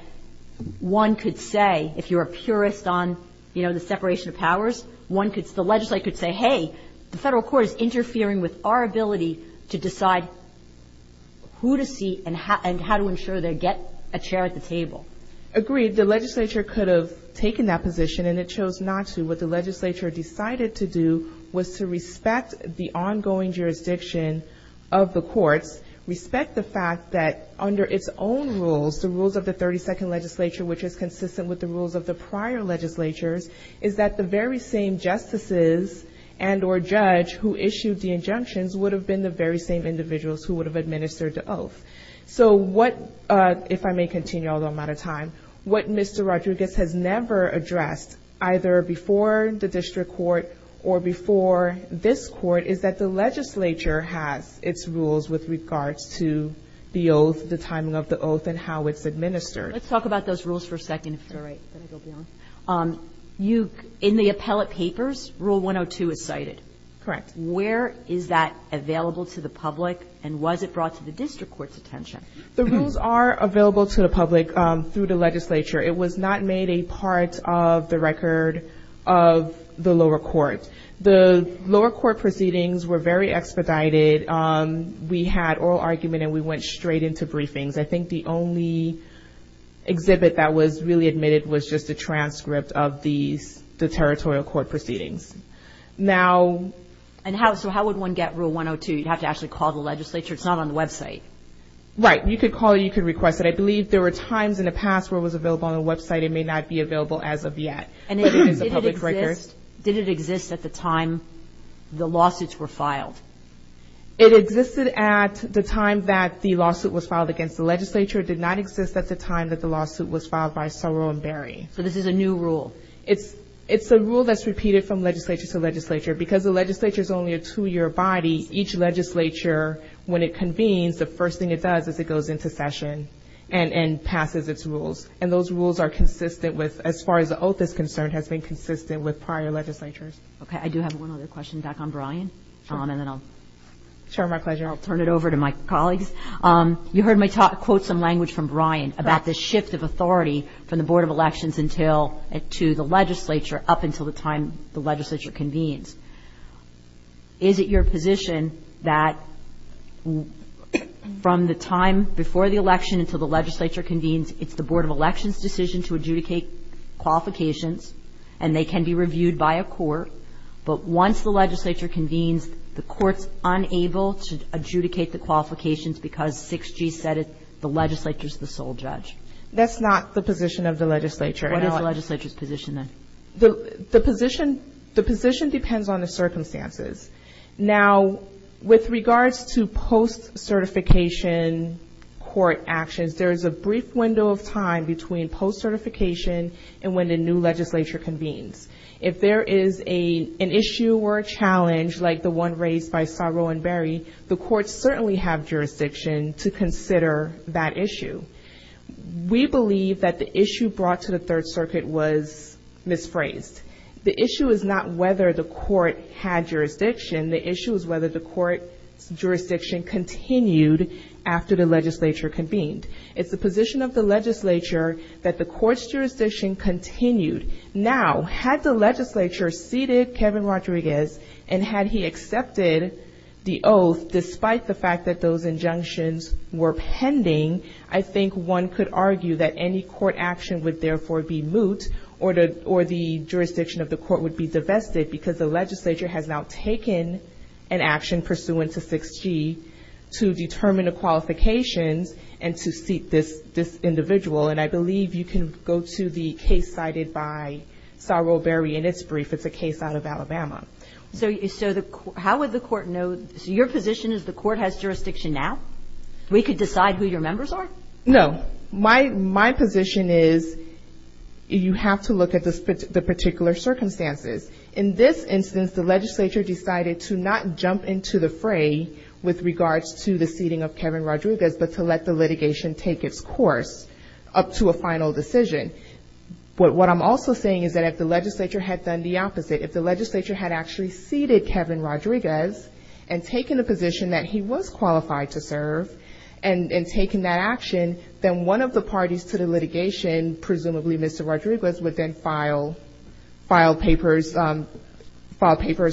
one could say if you're a purist on, you know, the separation of powers, one could, the legislature could say, hey, the Federal Court is interfering with our ability to decide who to seat and how to ensure they get a chair at the table. Agreed. The legislature could have taken that position, and it chose not to. What the legislature decided to do was to respect the ongoing jurisdiction of the courts, respect the fact that under its own rules, the rules of the 32nd legislature, which is consistent with the rules of the prior legislatures, is that the very same justices and or judge who issued the injunctions would have been the very same individuals who would have administered the oath. So what, if I may continue, although I'm out of time, what Mr. Rodriguez has never addressed, either before the district court or before this court, is that the legislature has its rules with regards to the oath, the timing of the oath, and how it's administered. Let's talk about those rules for a second. All right. Then I'll go beyond. You, in the appellate papers, Rule 102 is cited. Correct. Where is that available to the public, and was it brought to the district court's attention? The rules are available to the public through the legislature. It was not made a part of the record of the lower court. The lower court proceedings were very expedited. We had oral argument, and we went straight into briefings. I think the only exhibit that was really admitted was just a transcript of the territorial court proceedings. So how would one get Rule 102? You'd have to actually call the legislature. It's not on the website. Right. You could call it. You could request it. I believe there were times in the past where it was available on the website. It may not be available as of yet. Did it exist at the time the lawsuits were filed? It existed at the time that the lawsuit was filed against the legislature. It did not exist at the time that the lawsuit was filed by Soro and Berry. So this is a new rule? It's a rule that's repeated from legislature to legislature. Because the legislature is only a two-year body, each legislature, when it convenes, the first thing it does is it goes into session and passes its rules. And those rules are consistent with, as far as the oath is concerned, has been consistent with prior legislatures. Okay. I do have one other question back on Brian, and then I'll turn it over to my colleagues. You heard me quote some language from Brian about the shift of authority from the Board of Elections to the legislature up until the time the legislature convenes. Is it your position that from the time before the election until the legislature convenes, it's the Board of Elections' decision to adjudicate qualifications, and they can be reviewed by a court, but once the legislature convenes, the court's unable to adjudicate the qualifications because 6G said the legislature's the sole judge? That's not the position of the legislature. What is the legislature's position then? The position depends on the circumstances. Now, with regards to post-certification court actions, there is a brief window of time between post-certification and when the new legislature convenes. If there is an issue or a challenge like the one raised by Saru and Barry, the courts certainly have jurisdiction to consider that issue. We believe that the issue brought to the Third Circuit was misphrased. The issue is not whether the court had jurisdiction. The issue is whether the court's jurisdiction continued after the legislature convened. It's the position of the legislature that the court's jurisdiction continued. Now, had the legislature seated Kevin Rodriguez and had he accepted the oath, despite the fact that those injunctions were pending, I think one could argue that any court action would therefore be moot or the jurisdiction of the court would be divested because the legislature has now taken an action pursuant to 6G to determine the qualifications and to seat this individual. And I believe you can go to the case cited by Saru and Barry in its brief. It's a case out of Alabama. So how would the court know? So your position is the court has jurisdiction now? We could decide who your members are? No. My position is you have to look at the particular circumstances. In this instance, the legislature decided to not jump into the fray with regards to the seating of Kevin Rodriguez, but to let the litigation take its course up to a final decision. What I'm also saying is that if the legislature had done the opposite, if the legislature had actually seated Kevin Rodriguez and taken a position that he was qualified to serve and taken that action, then one of the parties to the litigation, presumably Mr. Rodriguez, would then file papers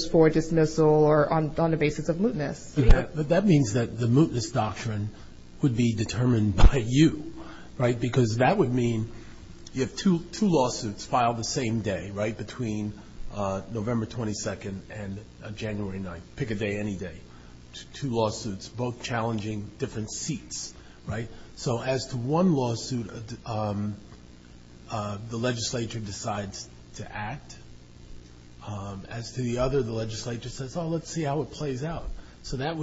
for dismissal or on the basis of mootness. But that means that the mootness doctrine would be determined by you, right? Because that would mean you have two lawsuits filed the same day, right, between November 22nd and January 9th. Pick a day, any day. Two lawsuits, both challenging different seats, right? So as to one lawsuit, the legislature decides to act. As to the other, the legislature says, oh, let's see how it plays out. So that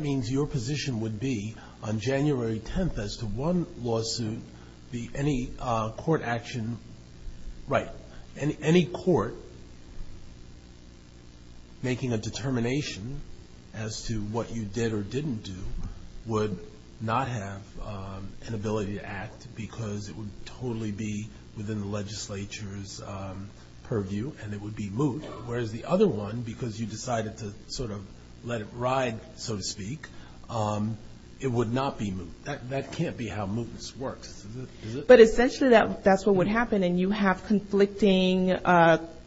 means your position would be on January 10th as to one lawsuit, any court action, right, any court making a determination as to what you did or didn't do would not have an ability to act because it would totally be within the legislature's purview and it would be moot, whereas the other one, because you decided to sort of let it ride, so to speak, it would not be moot. That can't be how mootness works. But essentially that's what would happen, and you have conflicting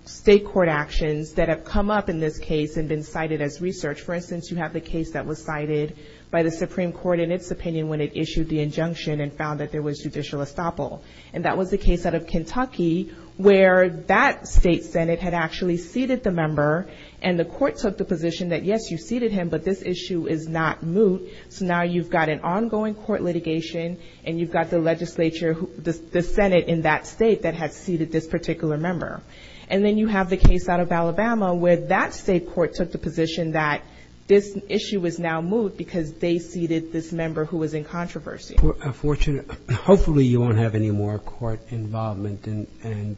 state court actions that have come up in this case and been cited as research. For instance, you have the case that was cited by the Supreme Court in its opinion when it issued the injunction and found that there was judicial estoppel, and that was the case out of Kentucky where that state senate had actually seated the member and the court took the position that, yes, you seated him, but this issue is not moot, so now you've got an ongoing court litigation and you've got the legislature, the senate in that state that has seated this particular member. And then you have the case out of Alabama where that state court took the position that this issue is now moot because they seated this member who was in controversy. Hopefully you won't have any more court involvement, and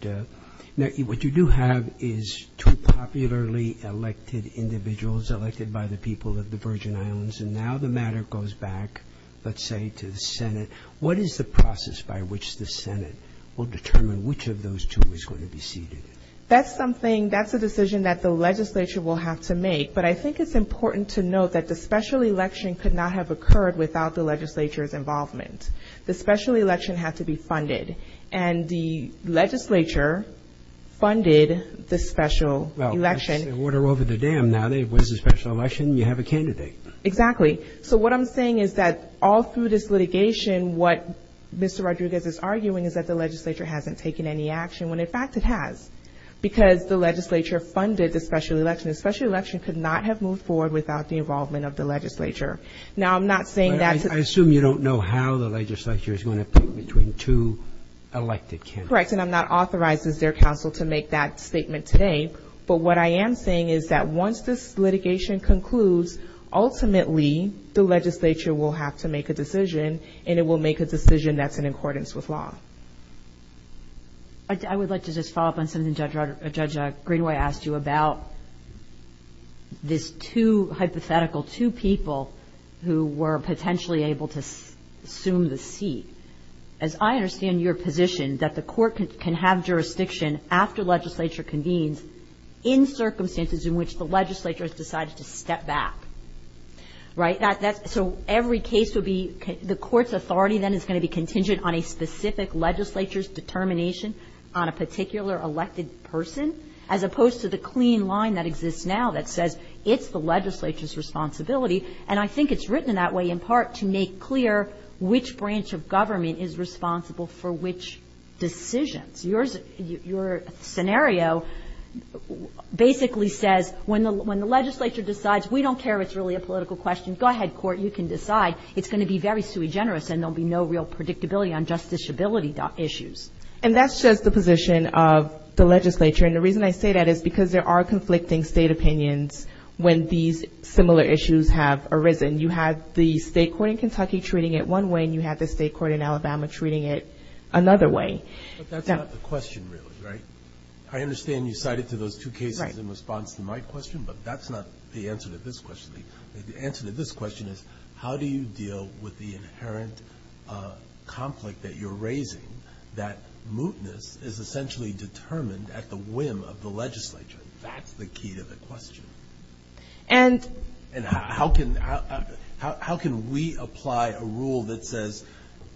what you do have is two popularly elected individuals elected by the people of the Virgin Islands, and now the matter goes back, let's say, to the senate. What is the process by which the senate will determine which of those two is going to be seated? That's something, that's a decision that the legislature will have to make, but I think it's important to note that the special election could not have occurred without the legislature's involvement. The special election had to be funded, and the legislature funded the special election. Well, it's the order over the dam now. There was a special election, you have a candidate. Exactly. So what I'm saying is that all through this litigation, what Mr. Rodriguez is arguing is that the legislature hasn't taken any action, when in fact it has, because the legislature funded the special election. The special election could not have moved forward without the involvement of the legislature. I assume you don't know how the legislature is going to pick between two elected candidates. Correct, and I'm not authorized as their counsel to make that statement today, but what I am saying is that once this litigation concludes, ultimately the legislature will have to make a decision, and it will make a decision that's in accordance with law. I would like to just follow up on something Judge Greenway asked you about, this hypothetical two people who were potentially able to assume the seat. As I understand your position, that the court can have jurisdiction after legislature convenes in circumstances in which the legislature has decided to step back, right? So every case would be the court's authority then is going to be contingent on a specific legislature's determination on a particular elected person, as opposed to the clean line that exists now that says it's the legislature's responsibility. And I think it's written in that way in part to make clear which branch of government is responsible for which decisions. Your scenario basically says when the legislature decides, we don't care if it's really a political question, go ahead, court, you can decide. It's going to be very sui generis, and there will be no real predictability on justiciability issues. And that's just the position of the legislature. And the reason I say that is because there are conflicting state opinions when these similar issues have arisen. You have the state court in Kentucky treating it one way, and you have the state court in Alabama treating it another way. But that's not the question really, right? I understand you cited to those two cases in response to my question, but that's not the answer to this question. The answer to this question is how do you deal with the inherent conflict that you're raising that mootness is essentially determined at the whim of the legislature? That's the key to the question. And how can we apply a rule that says,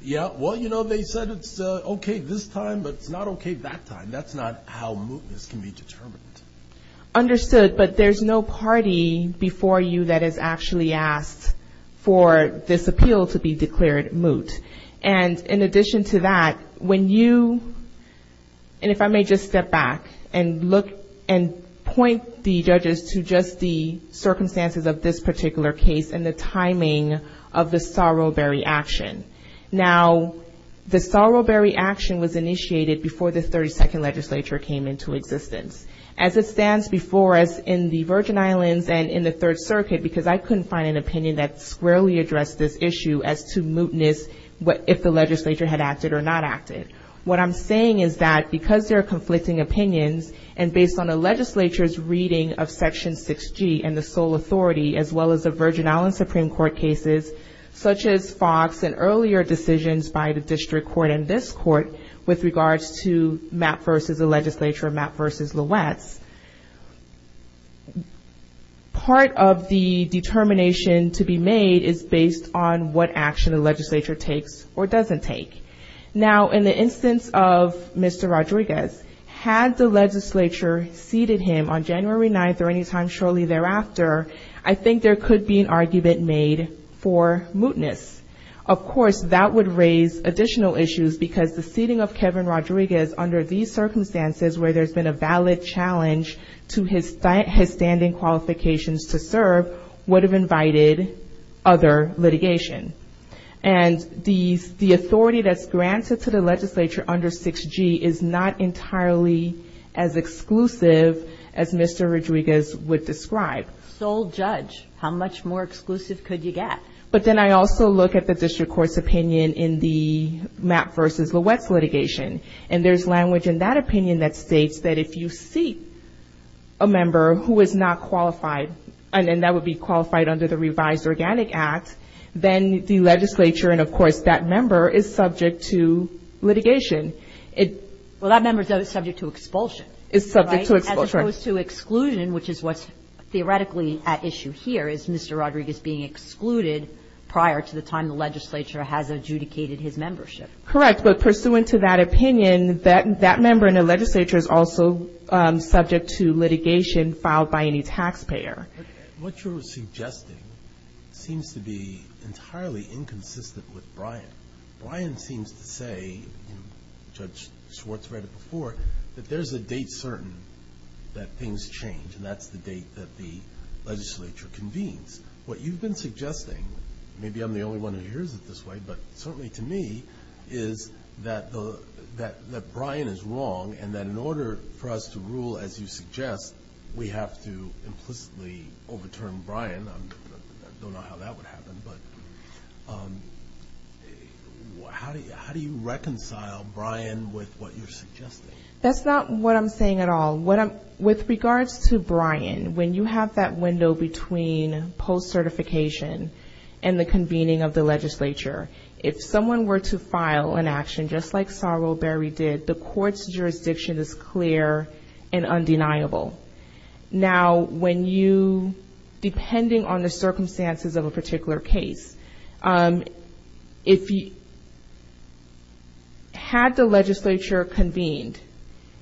yeah, well, you know, they said it's okay this time, but it's not okay that time. That's not how mootness can be determined. Understood. But there's no party before you that has actually asked for this appeal to be declared moot. And in addition to that, when you, and if I may just step back and look and point the judges to just the circumstances of this particular case and the timing of the Sorrowberry action. Now, the Sorrowberry action was initiated before the 32nd legislature came into existence. As it stands before us in the Virgin Islands and in the Third Circuit, because I couldn't find an opinion that squarely addressed this issue as to if the legislature had acted or not acted. What I'm saying is that because there are conflicting opinions and based on the legislature's reading of Section 6G and the sole authority, as well as the Virgin Islands Supreme Court cases, such as Fox and earlier decisions by the district court and this court with regards to Mapp v. the legislature, Mapp v. LeWetz, part of the determination to be made is based on what action the legislature takes or doesn't take. Now, in the instance of Mr. Rodriguez, had the legislature seated him on January 9th or any time shortly thereafter, I think there could be an argument made for mootness. Of course, that would raise additional issues, because the seating of Kevin Rodriguez under these circumstances where there's been a valid challenge to his standing qualifications to serve would have invited other litigation. And the authority that's granted to the legislature under 6G is not entirely as exclusive as Mr. Rodriguez would describe. Sole judge. How much more exclusive could you get? But then I also look at the district court's opinion in the Mapp v. LeWetz litigation, and there's language in that opinion that states that if you seat a member who is not qualified, and that would be qualified under the revised Organic Act, then the legislature and, of course, that member is subject to litigation. Well, that member is subject to expulsion. Is subject to expulsion. As opposed to exclusion, which is what's theoretically at issue here, is Mr. Rodriguez being excluded prior to the time the legislature has adjudicated his membership. Correct, but pursuant to that opinion, that member in the legislature is also subject to litigation filed by any taxpayer. What you're suggesting seems to be entirely inconsistent with Brian. Brian seems to say, Judge Schwartz read it before, that there's a date certain that things change, and that's the date that the legislature convenes. What you've been suggesting, maybe I'm the only one who hears it this way, but certainly to me is that Brian is wrong, and that in order for us to rule as you suggest, we have to implicitly overturn Brian. I don't know how that would happen, but how do you reconcile Brian with what you're suggesting? That's not what I'm saying at all. With regards to Brian, when you have that window between post-certification and the convening of the legislature, if someone were to file an action just like Sarul Berry did, the court's jurisdiction is clear and undeniable. Now, when you, depending on the circumstances of a particular case, if you had the legislature convened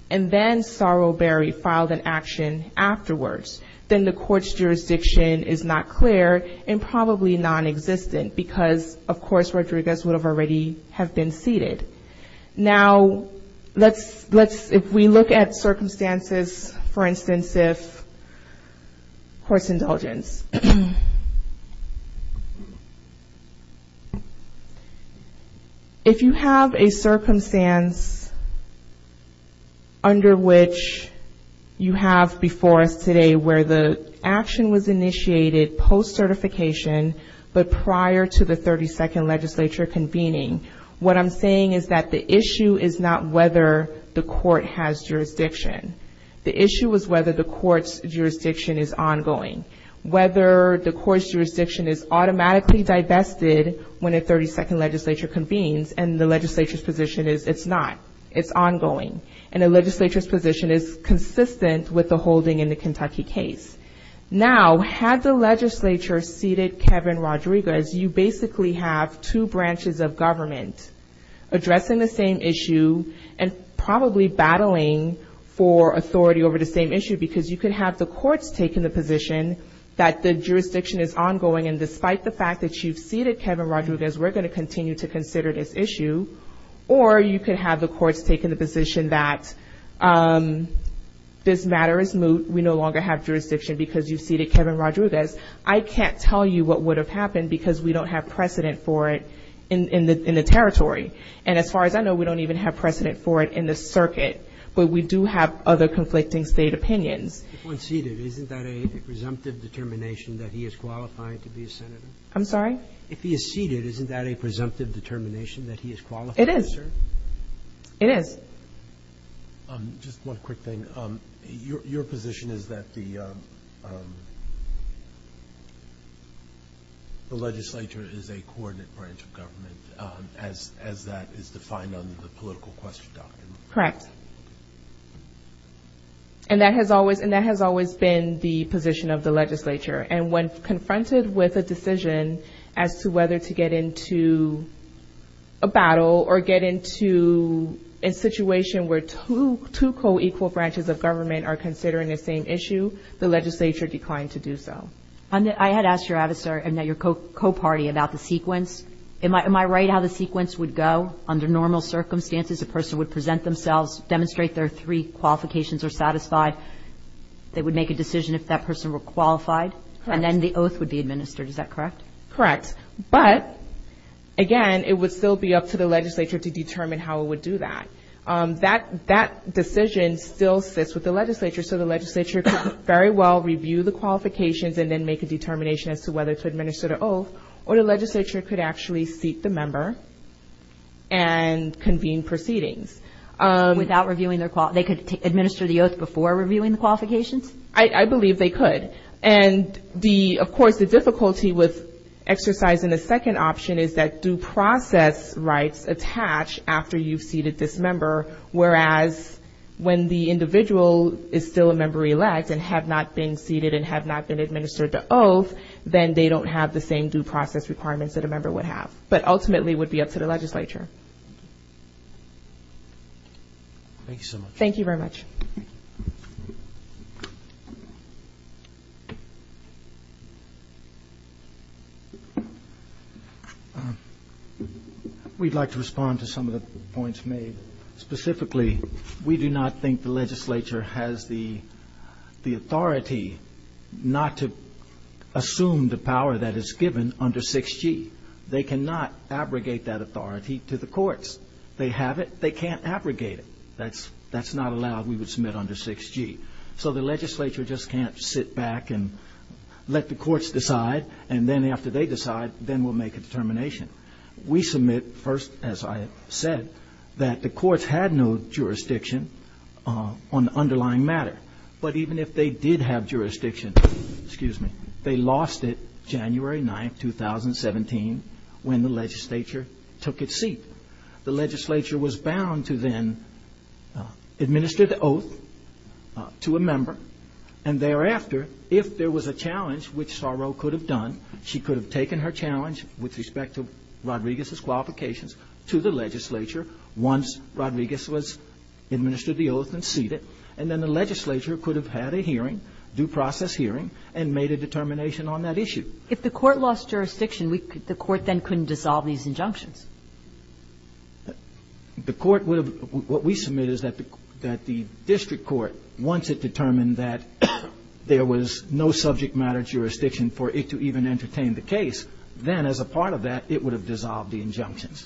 and then Sarul Berry filed an action afterwards, then the court's jurisdiction is not clear and probably nonexistent, because, of course, Rodriguez would have already have been seated. Now, let's, if we look at circumstances, for instance, if court's indulgence, if you have a circumstance under which you have before us today where the action was initiated post-certification, but prior to the 32nd legislature convening, what I'm saying is that the issue is not whether the court has jurisdiction. The issue is whether the court's jurisdiction is ongoing, whether the court's jurisdiction is automatically divested when a 32nd legislature convenes, and the legislature's position is it's not, it's ongoing, and the legislature's position is consistent with the holding in the Kentucky case. Now, had the legislature seated Kevin Rodriguez, you basically have two branches of government addressing the same issue and probably battling for authority over the same issue, because you could have the courts taking the position that the jurisdiction is ongoing, and despite the fact that you've seated Kevin Rodriguez, we're going to continue to consider this issue, or you could have the courts taking the position that this matter is moot, we no longer have jurisdiction because you've seated Kevin Rodriguez. I can't tell you what would have happened because we don't have precedent for it in the territory. And as far as I know, we don't even have precedent for it in the circuit, but we do have other conflicting state opinions. If one's seated, isn't that a presumptive determination that he is qualified to be a senator? I'm sorry? If he is seated, isn't that a presumptive determination that he is qualified, sir? It is. It is. Just one quick thing. Your position is that the legislature is a coordinate branch of government, as that is defined under the political question document? Correct. And that has always been the position of the legislature, and when confronted with a decision as to whether to get into a battle or get into a situation where two co-equal branches of government are considering the same issue, the legislature declined to do so. I had asked your co-party about the sequence. Am I right how the sequence would go? Under normal circumstances, a person would present themselves, demonstrate their three qualifications are satisfied, they would make a decision if that person were qualified, and then the oath would be administered. Is that correct? Correct. But, again, it would still be up to the legislature to determine how it would do that. That decision still sits with the legislature, so the legislature could very well review the qualifications and then make a determination as to whether to administer the oath, or the legislature could actually seat the member and convene proceedings. Without reviewing their qualifications? They could administer the oath before reviewing the qualifications? I believe they could. And, of course, the difficulty with exercising a second option is that due process rights attach after you've seated this member, whereas when the individual is still a member elect and have not been seated and have not been administered the oath, then they don't have the same due process requirements that a member would have. But, ultimately, it would be up to the legislature. Thank you so much. Thank you very much. We'd like to respond to some of the points made. Specifically, we do not think the legislature has the authority not to assume the power that is given under 6G. They cannot abrogate that authority to the courts. They have it. They can't abrogate it. That's not allowed. We would submit under 6G. So the legislature just can't sit back and let the courts decide, and then after they decide, then we'll make a determination. We submit first, as I said, that the courts had no jurisdiction on the underlying matter. But even if they did have jurisdiction, they lost it January 9th, 2017, when the legislature took its seat. The legislature was bound to then administer the oath to a member, and thereafter, if there was a challenge, which Saro could have done, she could have taken her challenge with respect to Rodriguez's qualifications to the legislature once Rodriguez was administered the oath and seated, and then the legislature could have had a hearing, due process hearing, and made a determination on that issue. If the court lost jurisdiction, the court then couldn't dissolve these injunctions. The court would have – what we submit is that the district court, once it determined that there was no subject matter jurisdiction for it to even entertain the case, then as a part of that, it would have dissolved the injunctions.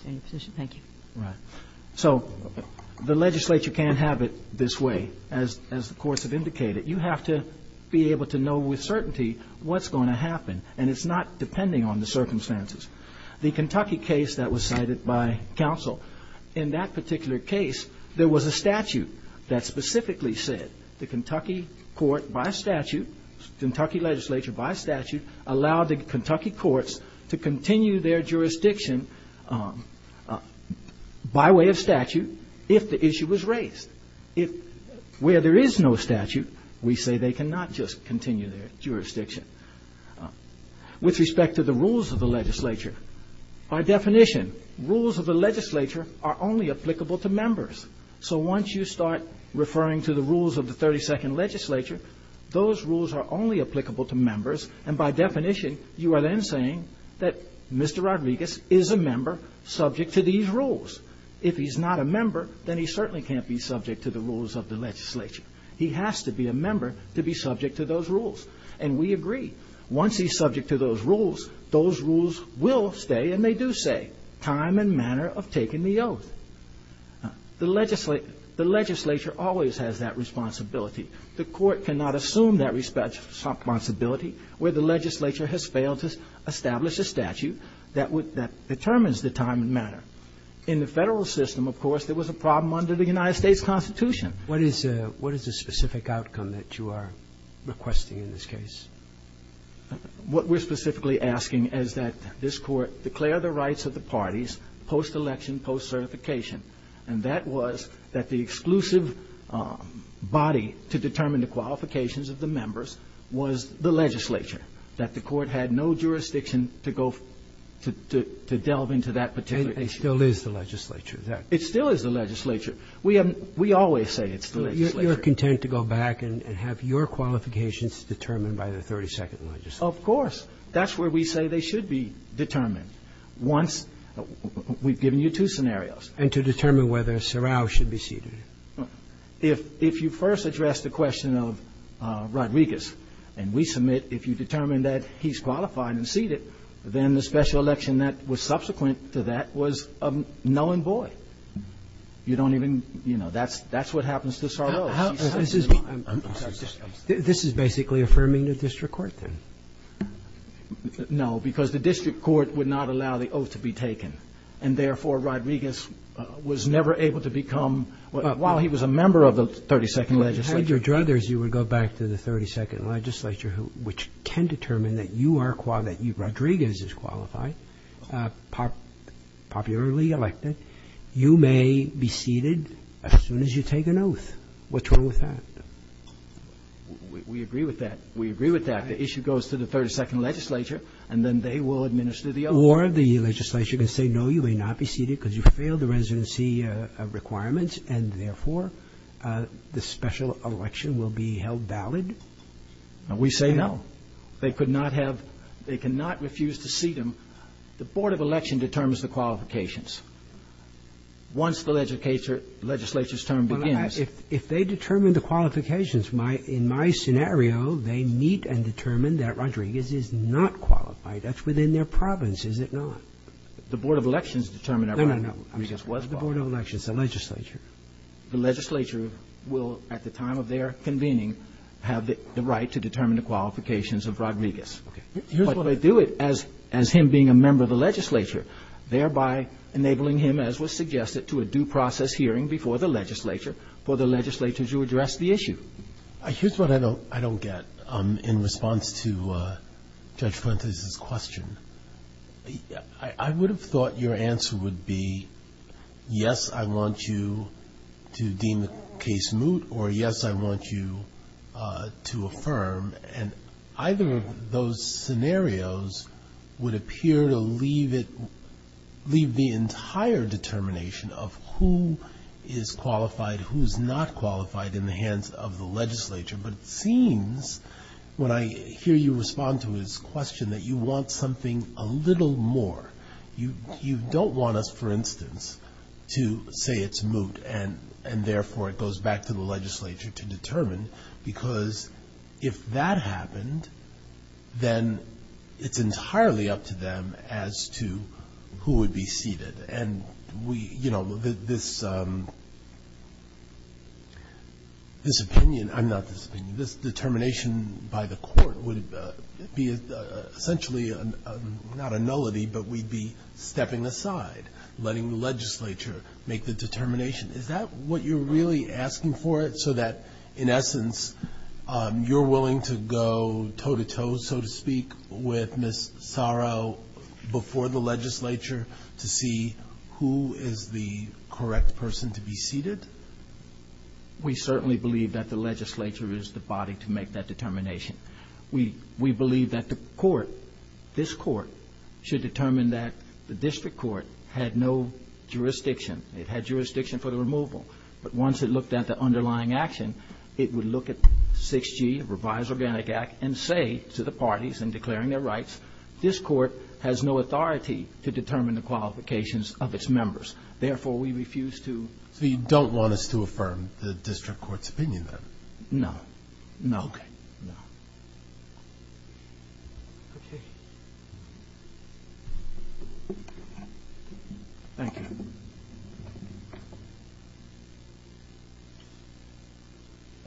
Thank you. Right. So the legislature can't have it this way, as the courts have indicated. You have to be able to know with certainty what's going to happen, and it's not depending on the circumstances. The Kentucky case that was cited by counsel, in that particular case, there was a statute that specifically said the Kentucky court by statute, Kentucky legislature by statute, allowed the Kentucky courts to continue their jurisdiction by way of statute if the issue was raised. Where there is no statute, we say they cannot just continue their jurisdiction. With respect to the rules of the legislature, by definition, rules of the legislature are only applicable to members. So once you start referring to the rules of the 32nd legislature, those rules are only applicable to members, and by definition, you are then saying that Mr. Rodriguez is a member subject to these rules. If he's not a member, then he certainly can't be subject to the rules of the legislature. He has to be a member to be subject to those rules, and we agree. Once he's subject to those rules, those rules will stay, and they do stay, time and manner of taking the oath. The legislature always has that responsibility. The court cannot assume that responsibility where the legislature has failed to establish a statute that determines the time and manner. In the Federal system, of course, there was a problem under the United States Constitution. What is the specific outcome that you are requesting in this case? What we're specifically asking is that this Court declare the rights of the parties post-election, post-certification, and that was that the exclusive body to determine the qualifications of the members was the legislature, that the Court had no jurisdiction to go to delve into that particular issue. It still is the legislature, is that right? It still is the legislature. We always say it's the legislature. You're content to go back and have your qualifications determined by the 32nd legislature. Of course. That's where we say they should be determined. Once we've given you two scenarios. And to determine whether Sarrao should be seated. If you first address the question of Rodriguez, and we submit if you determine that he's qualified and seated, then the special election that was subsequent to that was a knowing boy. You don't even, you know, that's what happens to Sarrao. This is basically affirming the district court, then? No, because the district court would not allow the oath to be taken. And, therefore, Rodriguez was never able to become, while he was a member of the 32nd legislature. Had your druthers, you would go back to the 32nd legislature, which can determine that you are qualified, that Rodriguez is qualified, popularly elected. You may be seated as soon as you take an oath. What's wrong with that? We agree with that. We agree with that. The issue goes to the 32nd legislature, and then they will administer the oath. Or the legislature can say, no, you may not be seated because you failed the residency requirements, and, therefore, the special election will be held valid. We say no. They could not have, they cannot refuse to seat him. The board of election determines the qualifications. Once the legislature's term begins. If they determine the qualifications, in my scenario, they meet and determine that Rodriguez is not qualified. That's within their province, is it not? The board of elections determined that Rodriguez was qualified. The board of elections, the legislature. The legislature will, at the time of their convening, have the right to determine the qualifications of Rodriguez. But they do it as him being a member of the legislature, thereby enabling him, as was suggested, to a due process hearing before the legislature for the legislature to address the issue. Here's what I don't get in response to Judge Fuentes' question. I would have thought your answer would be, yes, I want you to deem the case moot, or, yes, I want you to affirm. And either of those scenarios would appear to leave it, leave the entire determination of who is qualified, who's not qualified in the hands of the legislature. But it seems, when I hear you respond to his question, that you want something a little more. You don't want us, for instance, to say it's moot, and, therefore, it goes back to the legislature to determine. Because if that happened, then it's entirely up to them as to who would be seated. And, you know, this determination by the court would be essentially not a nullity, but we'd be stepping aside, letting the legislature make the determination. Is that what you're really asking for, so that, in essence, you're willing to go toe-to-toe, so to speak, with Ms. Saro before the legislature to see who is the correct person to be seated? We certainly believe that the legislature is the body to make that determination. We believe that the court, this court, should determine that the district court had no jurisdiction. It had jurisdiction for the removal. But once it looked at the underlying action, it would look at 6G, revised Organic Act, and say to the parties in declaring their rights, this court has no authority to determine the qualifications of its members. Therefore, we refuse to. So you don't want us to affirm the district court's opinion, then? No. No? Okay. No. Okay. Thank you.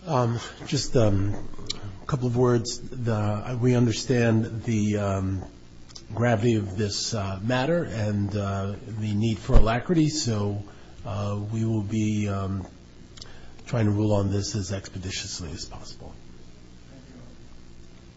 Thank you. Just a couple of words. We understand the gravity of this matter and the need for alacrity, so we will be trying to rule on this as expeditiously as possible.